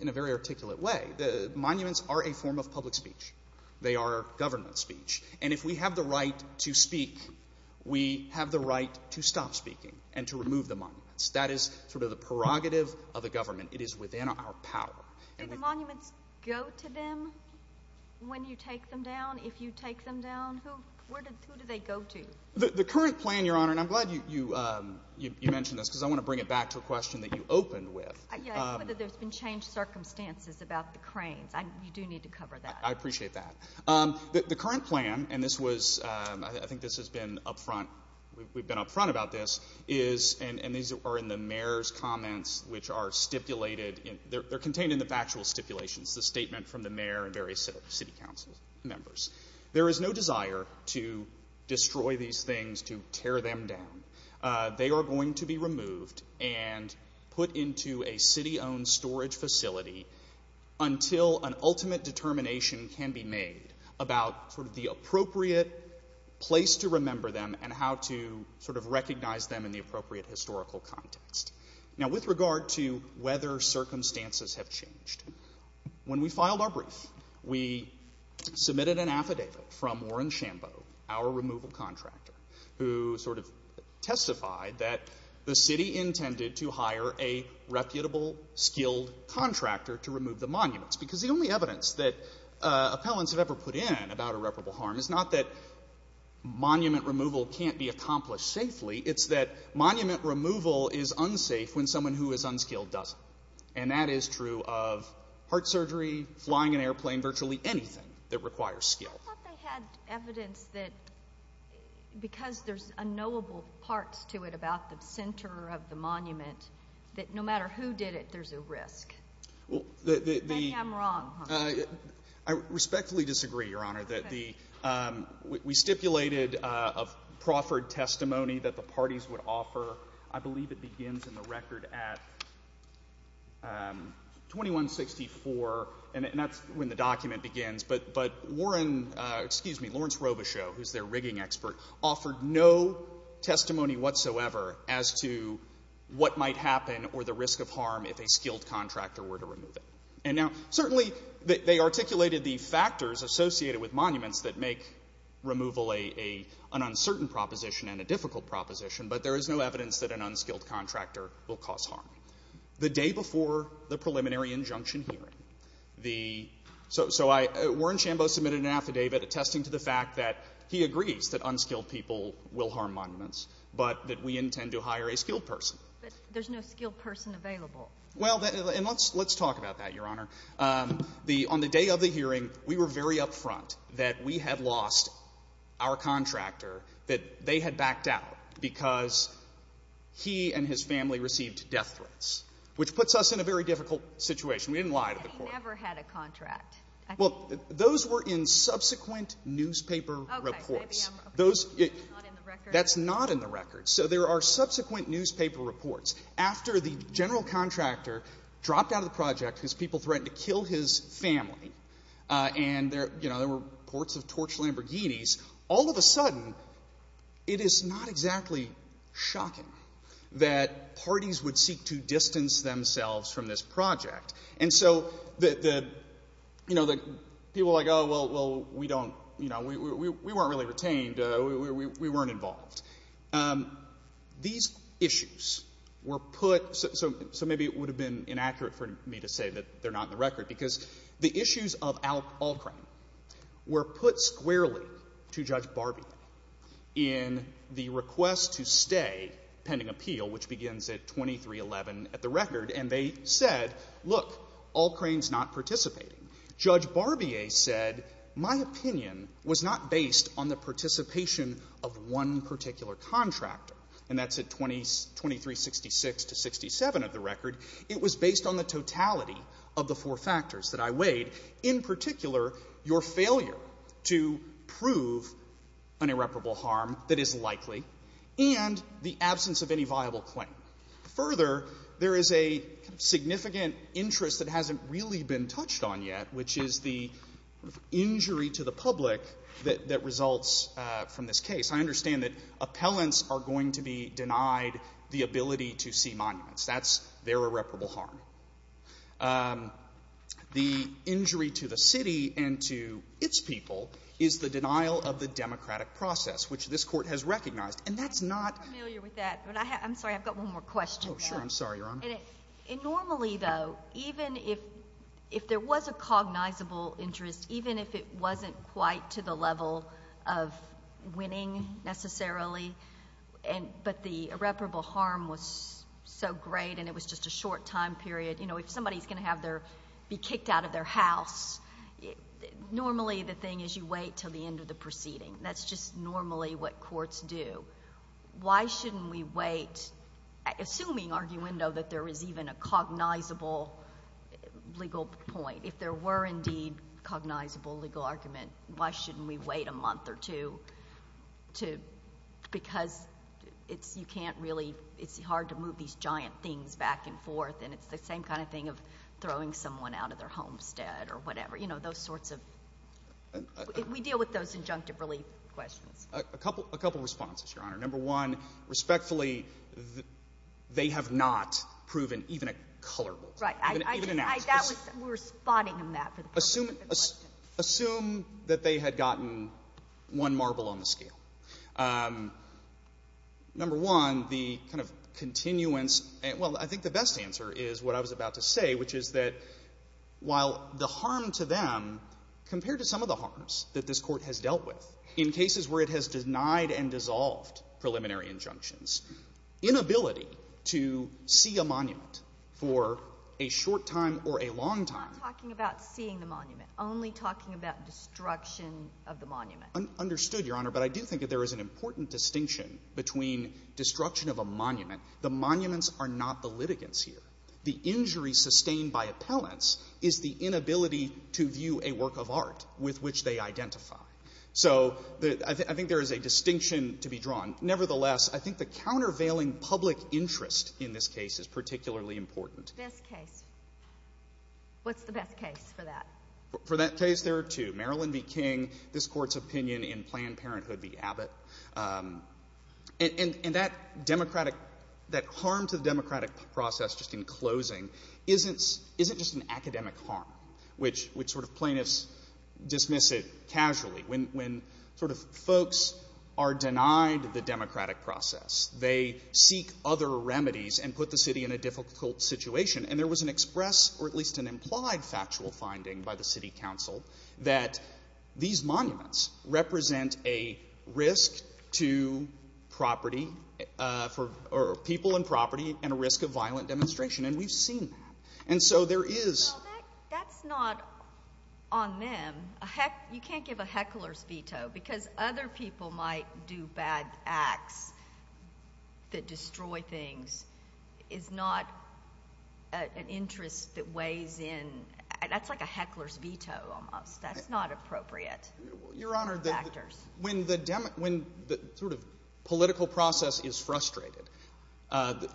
in a very articulate way. Monuments are a form of public speech. They are government speech. And if we have the right to speak, we have the right to stop speaking and to remove the monuments. That is sort of the prerogative of the government. It is within our power. Do the monuments go to them when you take them down? If you take them down, who do they go to? The current plan, Your Honor, and I'm glad you mentioned this because I want to bring it back to a question that you opened with. Yes, whether there's been changed circumstances about the cranes. You do need to cover that. I appreciate that. The current plan, and this was — I think this has been up front, we've been up front about this, is — and these are in the mayor's comments, which are stipulated — they're contained in the factual stipulations, the statement from the mayor and various city council members. There is no desire to destroy these things, to tear them down. They are going to be removed and put into a city-owned storage facility until an ultimate determination can be made about sort of the appropriate place to remember them and how to sort of recognize them in the appropriate historical context. Now, with regard to whether circumstances have changed, when we filed our brief, we submitted an affidavit from Warren Shambo, our removal contractor, who sort of testified that the city intended to hire a reputable, skilled contractor to remove the monuments. Because the only evidence that appellants have ever put in about irreparable harm is not that monument removal can't be accomplished safely. It's that monument removal is unsafe when someone who is unskilled doesn't. And that is true of heart surgery, flying an airplane, virtually anything that requires skill. I thought they had evidence that because there's unknowable parts to it about the center of the monument, that no matter who did it, there's a risk. Maybe I'm wrong, huh? I respectfully disagree, Your Honor, that the — we stipulated a proffered testimony that the parties would offer. I believe it begins in the record at 2164, and that's when the document begins. But Warren — excuse me, Lawrence Robichaux, who's their rigging expert, offered no testimony whatsoever as to what might happen or the risk of harm if a skilled contractor were to remove it. And now, certainly, they articulated the factors associated with monuments that make removal an uncertain proposition and a difficult proposition, but there is no evidence that an unskilled contractor will cause harm. The day before the preliminary injunction hearing, the — so I — Warren Chambeau submitted an affidavit attesting to the fact that he agrees that unskilled people will harm monuments, but that we intend to hire a skilled person. But there's no skilled person available. Well, that — and let's — let's talk about that, Your Honor. The — on the day of the hearing, we were very upfront that we had lost our contractor, that they had backed out because he and his family received death threats, which puts us in a very difficult situation. We didn't lie to the Court. But he never had a contract. Well, those were in subsequent newspaper reports. Okay. Maybe I'm wrong. Those — It's not in the record. That's not in the record. So there are subsequent newspaper reports. After the general contractor dropped out of the project because people threatened to kill his family, and there — you know, there were reports of torched Lamborghinis, all of a sudden, it is not exactly shocking that parties would seek to distance themselves from this project. And so the — you know, the people are like, oh, well, we don't — you know, we weren't really retained. We weren't involved. These issues were put — so maybe it would have been inaccurate for me to say that they're not in the record, because the issues of Alcrane were put squarely to Judge Barbier in the request to stay pending appeal, which begins at 2311 at the record. And they said, look, Alcrane's not participating. Judge Barbier said, my opinion was not based on the participation of one particular contractor, and that's at 2366 to 67 of the record. It was based on the totality of the four factors that I weighed, in particular, your failure to prove an irreparable harm that is likely and the absence of any viable claim. Further, there is a significant interest that hasn't really been touched on yet, which is the injury to the public that results from this case. I understand that appellants are going to be denied the ability to see monuments. That's their irreparable harm. The injury to the city and to its people is the denial of the democratic process, which this Court has recognized. And that's not — I'm not familiar with that. I'm sorry. I've got one more question. Oh, sure. I'm sorry, Your Honor. Normally, though, even if there was a cognizable interest, even if it wasn't quite to the level of winning, necessarily, but the irreparable harm was so great and it was just a short time period. You know, if somebody's going to have their — be kicked out of their house, normally the thing is you wait until the end of the proceeding. That's just normally what courts do. Why shouldn't we wait? Assuming, arguendo, that there is even a cognizable legal point, if there were indeed cognizable legal argument, why shouldn't we wait a month or two to — because it's — you can't really — it's hard to move these giant things back and forth. And it's the same kind of thing of throwing someone out of their homestead or whatever. You know, those sorts of — we deal with those injunctive relief questions. A couple of responses, Your Honor. Number one, respectfully, they have not proven even a colorable — Right. — even an act. We were spotting them that for the purpose of the question. Assume that they had gotten one marble on the scale. Number one, the kind of continuance — well, I think the best answer is what I was about to say, which is that while the harm to them, compared to some of the harms that this Court has denied and dissolved preliminary injunctions, inability to see a monument for a short time or a long time — We're not talking about seeing the monument, only talking about destruction of the monument. Understood, Your Honor. But I do think that there is an important distinction between destruction of a monument — the monuments are not the litigants here. The injury sustained by appellants is the inability to view a work of art with which they identify. So I think there is a distinction to be drawn. Nevertheless, I think the countervailing public interest in this case is particularly important. Best case. What's the best case for that? For that case, there are two. Marilyn v. King, this Court's opinion in Planned Parenthood v. Abbott. And that harm to the democratic process just in closing isn't just an academic harm, which plaintiffs dismiss it casually. When folks are denied the democratic process, they seek other remedies and put the city in a difficult situation. And there was an expressed or at least an implied factual finding by the City Council that these monuments represent a risk to people and property and a risk of violent demonstration. And we've seen that. Well, that's not on them. You can't give a heckler's veto. Because other people might do bad acts that destroy things. It's not an interest that weighs in. That's like a heckler's veto almost. That's not appropriate. Your Honor, when the political process is frustrated,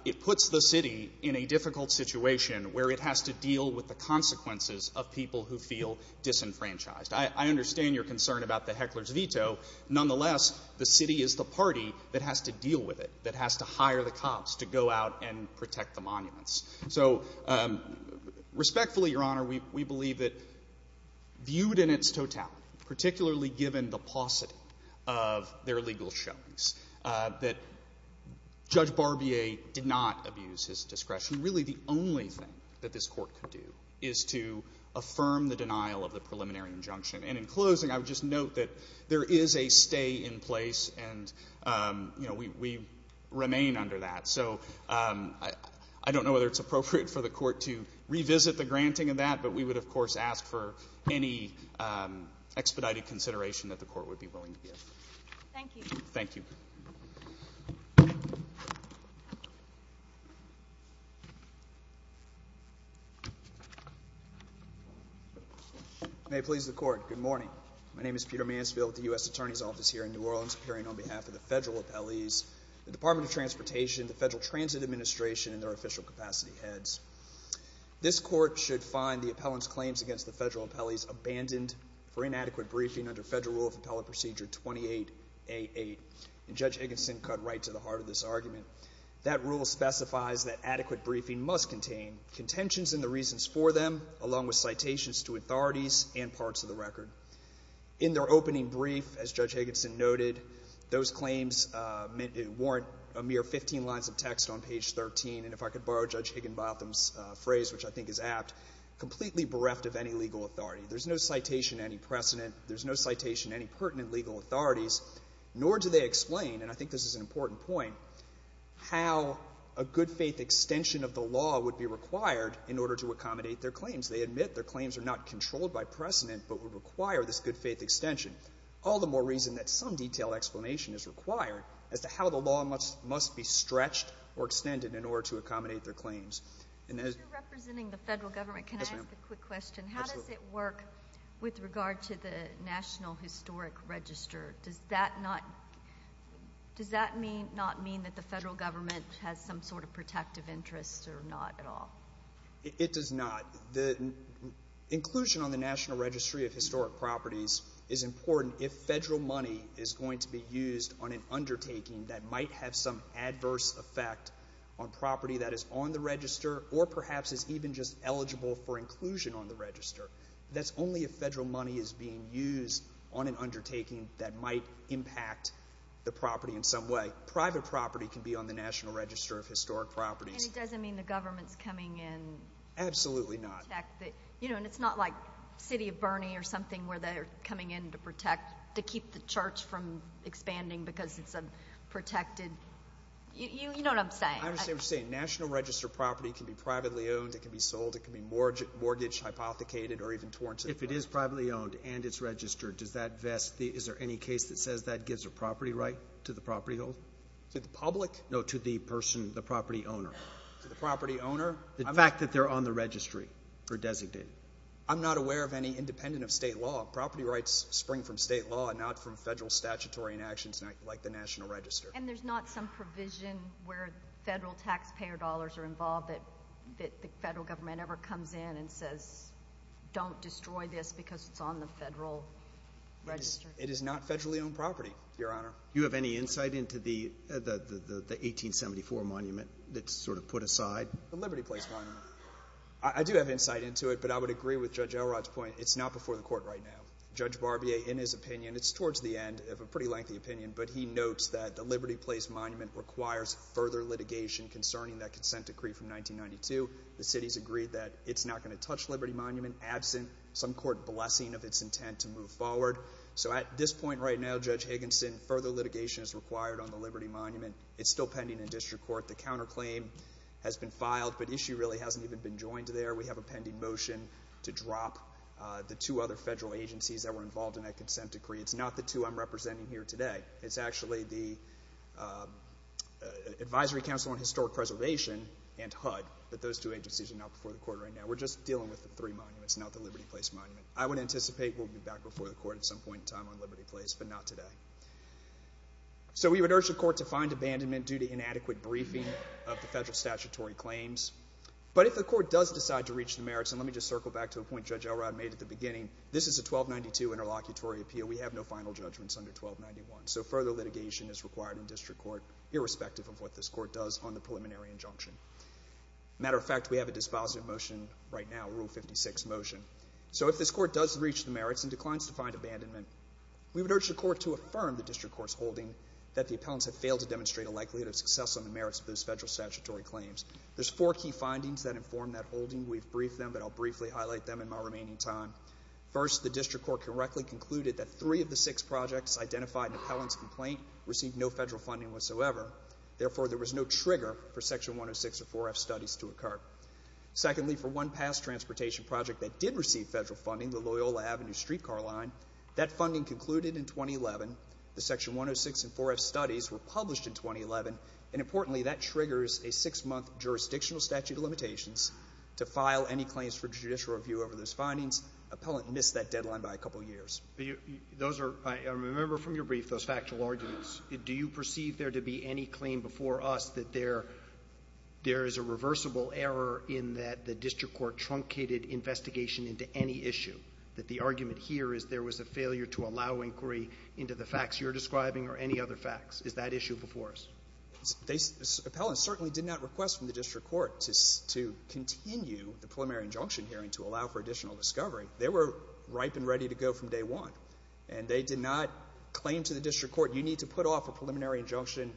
it puts the city in a difficult situation where it has to deal with the consequences of people who feel disenfranchised. I understand your concern about the heckler's veto. Nonetheless, the city is the party that has to deal with it, that has to hire the cops to go out and protect the monuments. So respectfully, Your Honor, we believe that viewed in its totality, particularly given the paucity of their legal showings, that Judge Barbier did not abuse his discretion. That's really the only thing that this Court could do, is to affirm the denial of the preliminary injunction. And in closing, I would just note that there is a stay in place, and we remain under that. So I don't know whether it's appropriate for the Court to revisit the granting of that, but we would, of course, ask for any expedited consideration that the Court would be willing to give. Thank you. Thank you. May it please the Court, good morning. My name is Peter Mansfield with the U.S. Attorney's Office here in New Orleans, appearing on behalf of the federal appellees, the Department of Transportation, the Federal Transit Administration, and their official capacity heads. This Court should find the appellant's claims against the federal appellees abandoned for inadequate briefing under Federal Rule of Appellant Procedure 28-A-8. And Judge Egginson cut right to the heart of this argument. That rule specifies that adequate briefing must contain contentions in the reasons for them, along with citations to authorities and parts of the record. In their opening brief, as Judge Egginson noted, those claims warrant a mere 15 lines of text on page 13, and if I could borrow Judge Higginbotham's phrase, which I think is apt, completely bereft of any legal authority. There's no citation of any precedent. There's no citation of any pertinent legal authorities, nor do they explain, and I think this is an important point, how a good-faith extension of the law would be required in order to accommodate their claims. They admit their claims are not controlled by precedent, but would require this good-faith extension. All the more reason that some detailed explanation is required as to how the law must be stretched or extended in order to accommodate their claims. And as you're representing the Federal Government, can I ask a quick question? Yes, ma'am. How does it work with regard to the National Historic Register? Does that not mean that the Federal Government has some sort of protective interest or not at all? It does not. Inclusion on the National Registry of Historic Properties is important if Federal money is going to be used on an undertaking that might have some adverse effect on property that is on the Register or perhaps is even just eligible for inclusion on the Register. That's only if Federal money is being used on an undertaking that might impact the property in some way. Private property can be on the National Register of Historic Properties. And it doesn't mean the government's coming in to protect it? Absolutely not. And it's not like the city of Burney or something where they're coming in to protect, to keep the church from expanding because it's a protected—you know what I'm saying. I understand what you're saying. National Register property can be privately owned, it can be sold, it can be mortgaged, hypothecated, or even torrented. If it is privately owned and it's registered, is there any case that says that gives a property right to the property holder? To the public? No, to the person, the property owner. To the property owner? The fact that they're on the registry or designated. I'm not aware of any independent of state law. Property rights spring from state law and not from Federal statutory inactions like the National Register. And there's not some provision where Federal taxpayer dollars are involved that the Federal government ever comes in and says, don't destroy this because it's on the Federal Register? It is not federally owned property, Your Honor. Do you have any insight into the 1874 monument that's sort of put aside? The Liberty Place monument. I do have insight into it, but I would agree with Judge Elrod's point. It's not before the court right now. Judge Barbier, in his opinion, it's towards the end of a pretty lengthy opinion, but he notes that the Liberty Place monument requires further litigation concerning that consent decree from 1992. The city's agreed that it's not going to touch Liberty Monument, absent some court blessing of its intent to move forward. So at this point right now, Judge Higginson, further litigation is required on the Liberty Monument. It's still pending in district court. The counterclaim has been filed, but issue really hasn't even been joined there. We have a pending motion to drop the two other Federal agencies that were involved in that consent decree. It's not the two I'm representing here today. It's actually the Advisory Council on Historic Preservation and HUD, but those two agencies are not before the court right now. We're just dealing with the three monuments, not the Liberty Place monument. I would anticipate we'll be back before the court at some point in time on Liberty Place, but not today. So we would urge the court to find abandonment due to inadequate briefing of the federal statutory claims. But if the court does decide to reach the merits, and let me just circle back to a point Judge Elrod made at the beginning, this is a 1292 interlocutory appeal. We have no final judgments under 1291. So further litigation is required in district court, irrespective of what this court does on the preliminary injunction. Matter of fact, we have a dispositive motion right now, Rule 56 motion. So if this court does reach the merits and declines to find abandonment, we would urge the court to affirm the district court's holding that the appellants have failed to demonstrate a likelihood of success on the merits of those federal statutory claims. There's four key findings that inform that holding. We've briefed them, but I'll briefly highlight them in my remaining time. First, the district court correctly concluded that three of the six projects identified in the appellant's complaint received no federal funding whatsoever. Therefore, there was no trigger for Section 106 or 4F studies to occur. Secondly, for one past transportation project that did receive federal funding, the Loyola Avenue streetcar line, that funding concluded in 2011. The Section 106 and 4F studies were published in 2011. And importantly, that triggers a six-month jurisdictional statute of limitations to file any claims for judicial review over those findings. Appellant missed that deadline by a couple years. Those are, I remember from your brief, those factual arguments. Do you perceive there to be any claim before us that there is a reversible error in that the district court truncated investigation into any issue, that the argument here is there was a failure to allow inquiry into the facts you're describing or any other facts? Is that issue before us? Appellants certainly did not request from the district court to continue the preliminary injunction hearing to allow for additional discovery. They were ripe and ready to go from day one. And they did not claim to the district court, you need to put off a preliminary injunction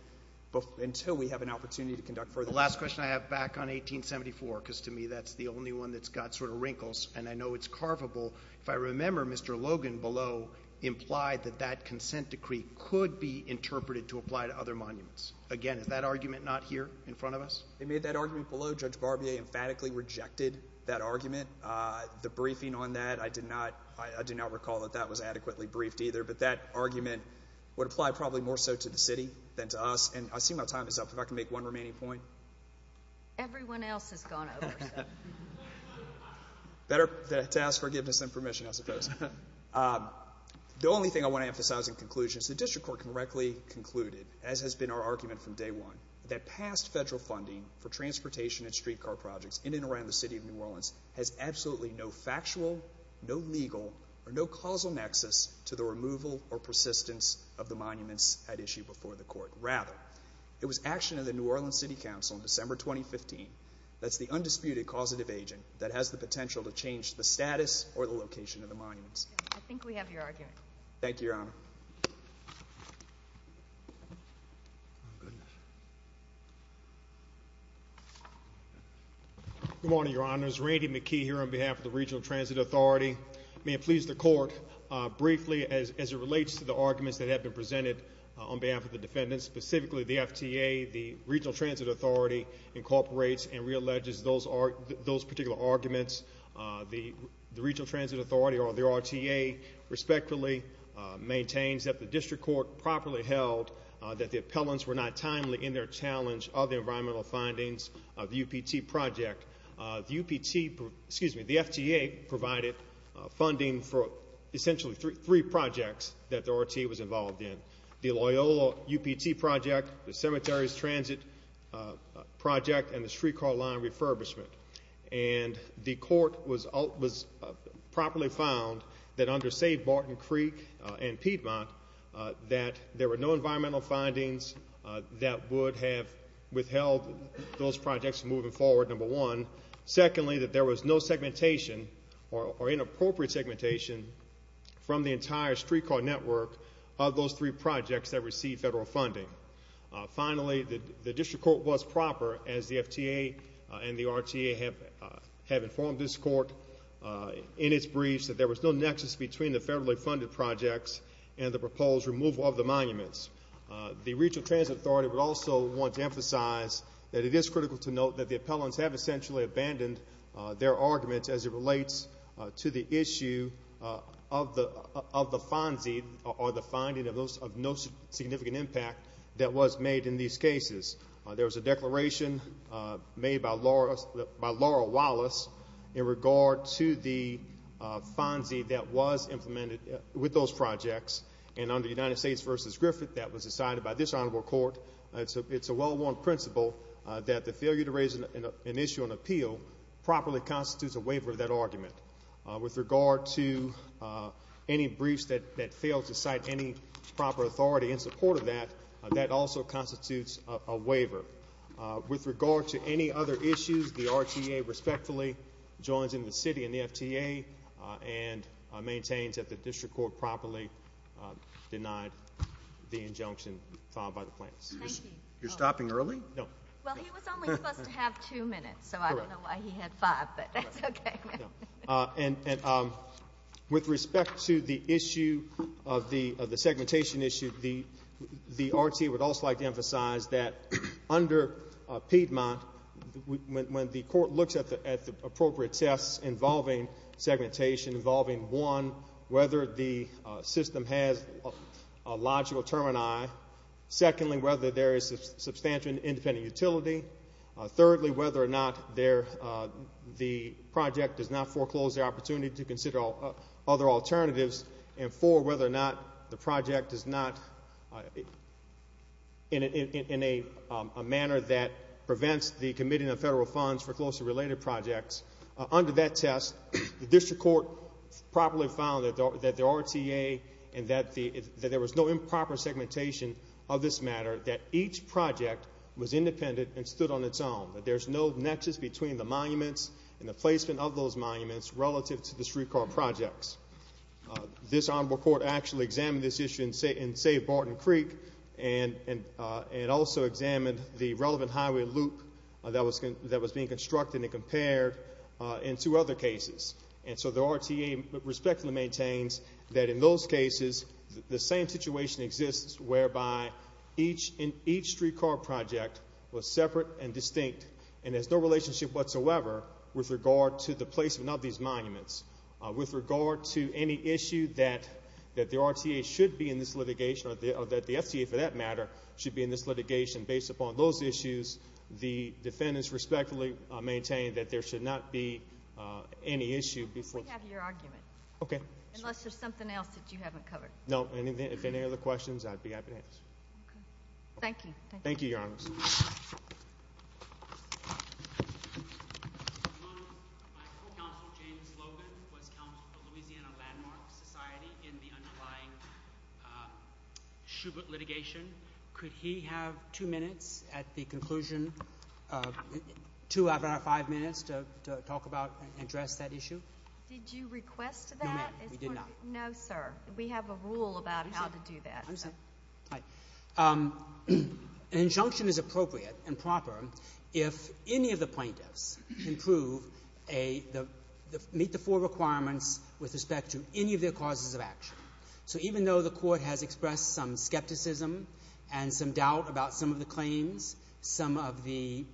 until we have an opportunity to conduct further. The last question I have, back on 1874, because to me that's the only one that's got sort of wrinkles, and I know it's carvable. If I remember, Mr. Logan below implied that that consent decree could be interpreted to apply to other monuments. Again, is that argument not here in front of us? They made that argument below. Judge Barbier emphatically rejected that argument. The briefing on that, I did not recall that that was adequately briefed either. But that argument would apply probably more so to the city than to us. And I see my time is up. If I can make one remaining point. Everyone else has gone over. Better to ask forgiveness than permission, I suppose. The only thing I want to emphasize in conclusion is the district court correctly concluded, as has been our argument from day one, that past federal funding for transportation and streetcar projects in and around the city of New Orleans has absolutely no factual, no legal, or no causal nexus to the removal or persistence of the monuments at issue before the court. Rather, it was action of the New Orleans City Council in December 2015, that's the undisputed causative agent that has the potential to change the status or the location of the monuments. I think we have your argument. Thank you, Your Honor. Good morning, Your Honors. Randy McKee here on behalf of the Regional Transit Authority. May it please the court, briefly, as it relates to the arguments that have been presented on behalf of the defendants, specifically the FTA, the Regional Transit Authority incorporates and realleges those particular arguments. The Regional Transit Authority, or the RTA, respectfully maintains that the district court properly held that the appellants were not timely in their challenge of the environmental findings of the UPT project. The UPT, excuse me, the FTA provided funding for essentially three projects that the RTA was involved in. The Loyola UPT project, the cemeteries transit project, and the streetcar line refurbishment. And the court was properly found that under, say, Barton Creek and Piedmont, that there were no environmental findings that would have withheld those projects moving forward, number one. Secondly, that there was no segmentation or inappropriate segmentation from the entire streetcar network of those three projects that received federal funding. Finally, the district court was proper, as the FTA and the RTA have informed this court in its briefs, that there was no nexus between the federally funded projects and the proposed removal of the monuments. The Regional Transit Authority would also want to emphasize that it is critical to note that the appellants have essentially abandoned their arguments as it relates to the issue of the FONSI or the finding of no significant impact that was made in these cases. There was a declaration made by Laura Wallace in regard to the FONSI that was implemented with those projects. And under United States v. Griffith, that was decided by this honorable court. It's a well-worn principle that the failure to raise an issue on appeal properly constitutes a waiver of that argument. With regard to any briefs that fail to cite any proper authority in support of that, that also constitutes a waiver. With regard to any other issues, the RTA respectfully joins in the city and the FTA and maintains that the district court properly denied the injunction filed by the plaintiffs. Thank you. You're stopping early? No. Well, he was only supposed to have two minutes, so I don't know why he had five, but that's okay. And with respect to the issue of the segmentation issue, the RTA would also like to emphasize that under Piedmont, when the court looks at the appropriate tests involving segmentation, involving, one, whether the system has a logical termini, secondly, whether there is substantial independent utility, thirdly, whether or not the project does not foreclose the opportunity to consider other alternatives, and four, whether or not the project is not in a manner that prevents the committing of federal funds for closely related projects. Under that test, the district court properly found that the RTA and that there was no improper segmentation of this matter, that each project was independent and stood on its own, that there's no nexus between the monuments and the placement of those monuments relative to the streetcar projects. This honorable court actually examined this issue in, say, Barton Creek and also examined the relevant highway loop that was being constructed and compared in two other cases, and so the RTA respectfully maintains that in those cases, the same situation exists whereby each streetcar project was separate and distinct and has no relationship whatsoever with regard to the placement of these monuments. With regard to any issue that the RTA should be in this litigation, or that the FTA, for that matter, should be in this litigation, based upon those issues, the defendants respectfully maintain that there should not be any issue. We have your argument. Okay. Unless there's something else that you haven't covered. No. If there are any other questions, I'd be happy to answer. Okay. Thank you. Thank you, Your Honor. My counsel, James Logan, was counsel for Louisiana Landmark Society in the underlying Shubert litigation. Could he have two minutes at the conclusion, two out of our five minutes, to talk about and address that issue? Did you request that? No, ma'am. We did not. No, sir. We have a rule about how to do that. I'm sorry. An injunction is appropriate and proper if any of the plaintiffs meet the four requirements with respect to any of their causes of action. So even though the court has expressed some skepticism and some doubt about some of the claims, some of the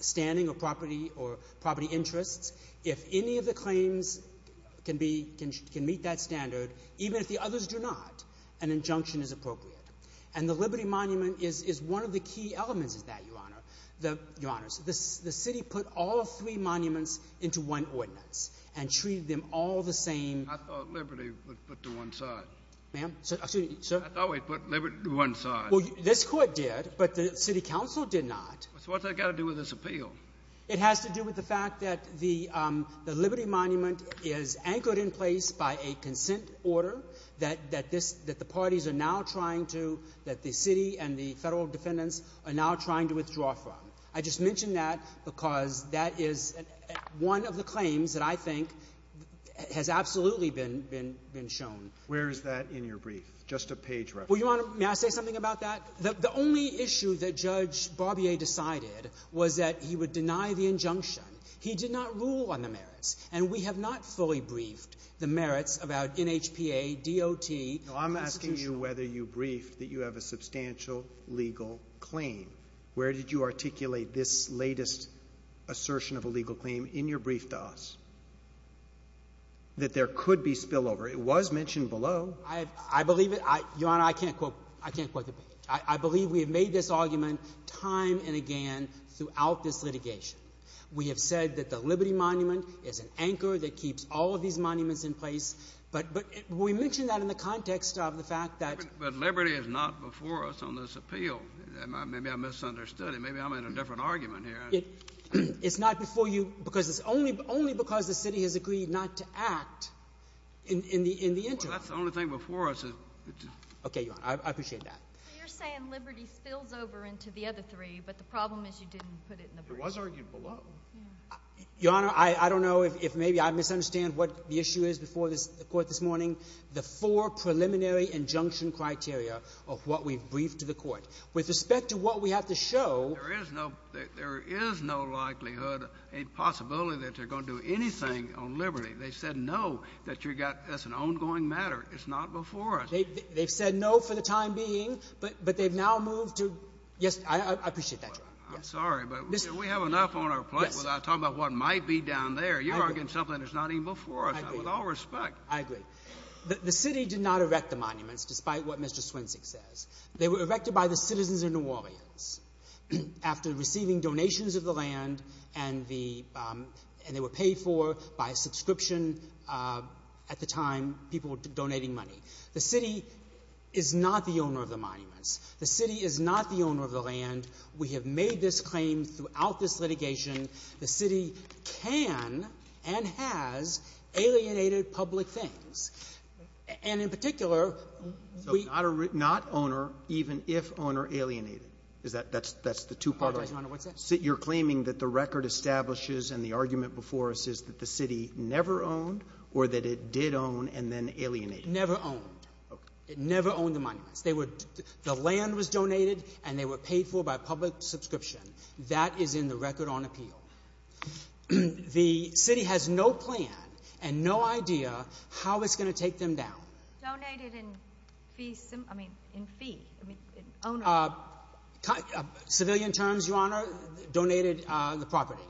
standing or property interests, if any of the claims can meet that standard, even if the others do not, an injunction is appropriate. And the Liberty Monument is one of the key elements of that, Your Honor. The city put all three monuments into one ordinance and treated them all the same. I thought Liberty put them to one side. Ma'am? I thought we put Liberty to one side. Well, this court did, but the city council did not. So what's that got to do with this appeal? It has to do with the fact that the Liberty Monument is anchored in place by a consent order that the parties are now trying to, that the city and the federal defendants are now trying to withdraw from. I just mention that because that is one of the claims that I think has absolutely been shown. Where is that in your brief? Just a page reference. Well, Your Honor, may I say something about that? The only issue that Judge Barbier decided was that he would deny the injunction. He did not rule on the merits. And we have not fully briefed the merits about NHPA, DOT. I'm asking you whether you briefed that you have a substantial legal claim. Where did you articulate this latest assertion of a legal claim in your brief to us that there could be spillover? It was mentioned below. I believe it. Your Honor, I can't quote the page. I believe we have made this argument time and again throughout this litigation. We have said that the Liberty Monument is an anchor that keeps all of these monuments in place. But we mentioned that in the context of the fact that— But Liberty is not before us on this appeal. Maybe I misunderstood it. Maybe I'm in a different argument here. It's not before you because it's only because the city has agreed not to act in the interim. Well, that's the only thing before us. Okay, Your Honor. I appreciate that. You're saying Liberty spills over into the other three, but the problem is you didn't put it in the brief. It was argued below. Your Honor, I don't know if maybe I misunderstand what the issue is before the court this morning. The four preliminary injunction criteria of what we've briefed to the court. With respect to what we have to show— There is no likelihood, a possibility that they're going to do anything on Liberty. They said no, that you've got—that's an ongoing matter. It's not before us. They've said no for the time being, but they've now moved to— Yes, I appreciate that, Your Honor. I'm sorry, but we have enough on our plate without talking about what might be down there. You're arguing something that's not even before us. I agree. With all due respect— I agree. The city did not erect the monuments, despite what Mr. Swinsik says. They were erected by the citizens of New Orleans after receiving donations of the land and the — and they were paid for by a subscription at the time people were donating money. The city is not the owner of the monuments. The city is not the owner of the land. We have made this claim throughout this litigation. The city can and has alienated public things. And in particular, we— So not owner, even if owner alienated. Is that — that's the two-parter? I apologize, Your Honor. What's that? You're claiming that the record establishes and the argument before us is that the city never owned or that it did own and then alienated? Never owned. Okay. It never owned the monuments. They were — the land was donated, and they were paid for by public subscription. That is in the record on appeal. The city has no plan and no idea how it's going to take them down. Donated in fee — I mean, in fee. I mean, in owner. Civilian terms, Your Honor. Donated the property.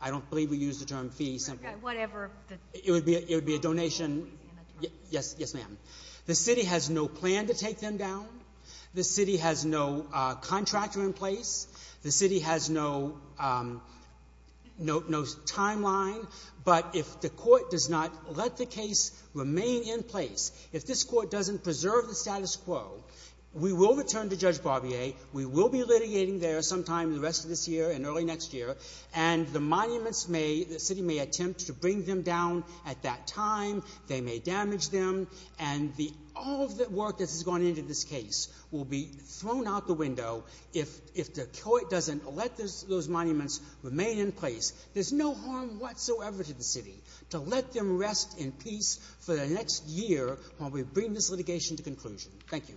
I don't believe we use the term fee simply. Whatever. It would be a donation. Yes, ma'am. The city has no plan to take them down. The city has no contractor in place. The city has no timeline. But if the court does not let the case remain in place, if this court doesn't preserve the status quo, we will return to Judge Barbier. We will be litigating there sometime the rest of this year and early next year. And the monuments may — the city may attempt to bring them down at that time. They may damage them. And all of the work that has gone into this case will be thrown out the window if the court doesn't let those monuments remain in place. There's no harm whatsoever to the city to let them rest in peace for the next year while we bring this litigation to conclusion. Thank you.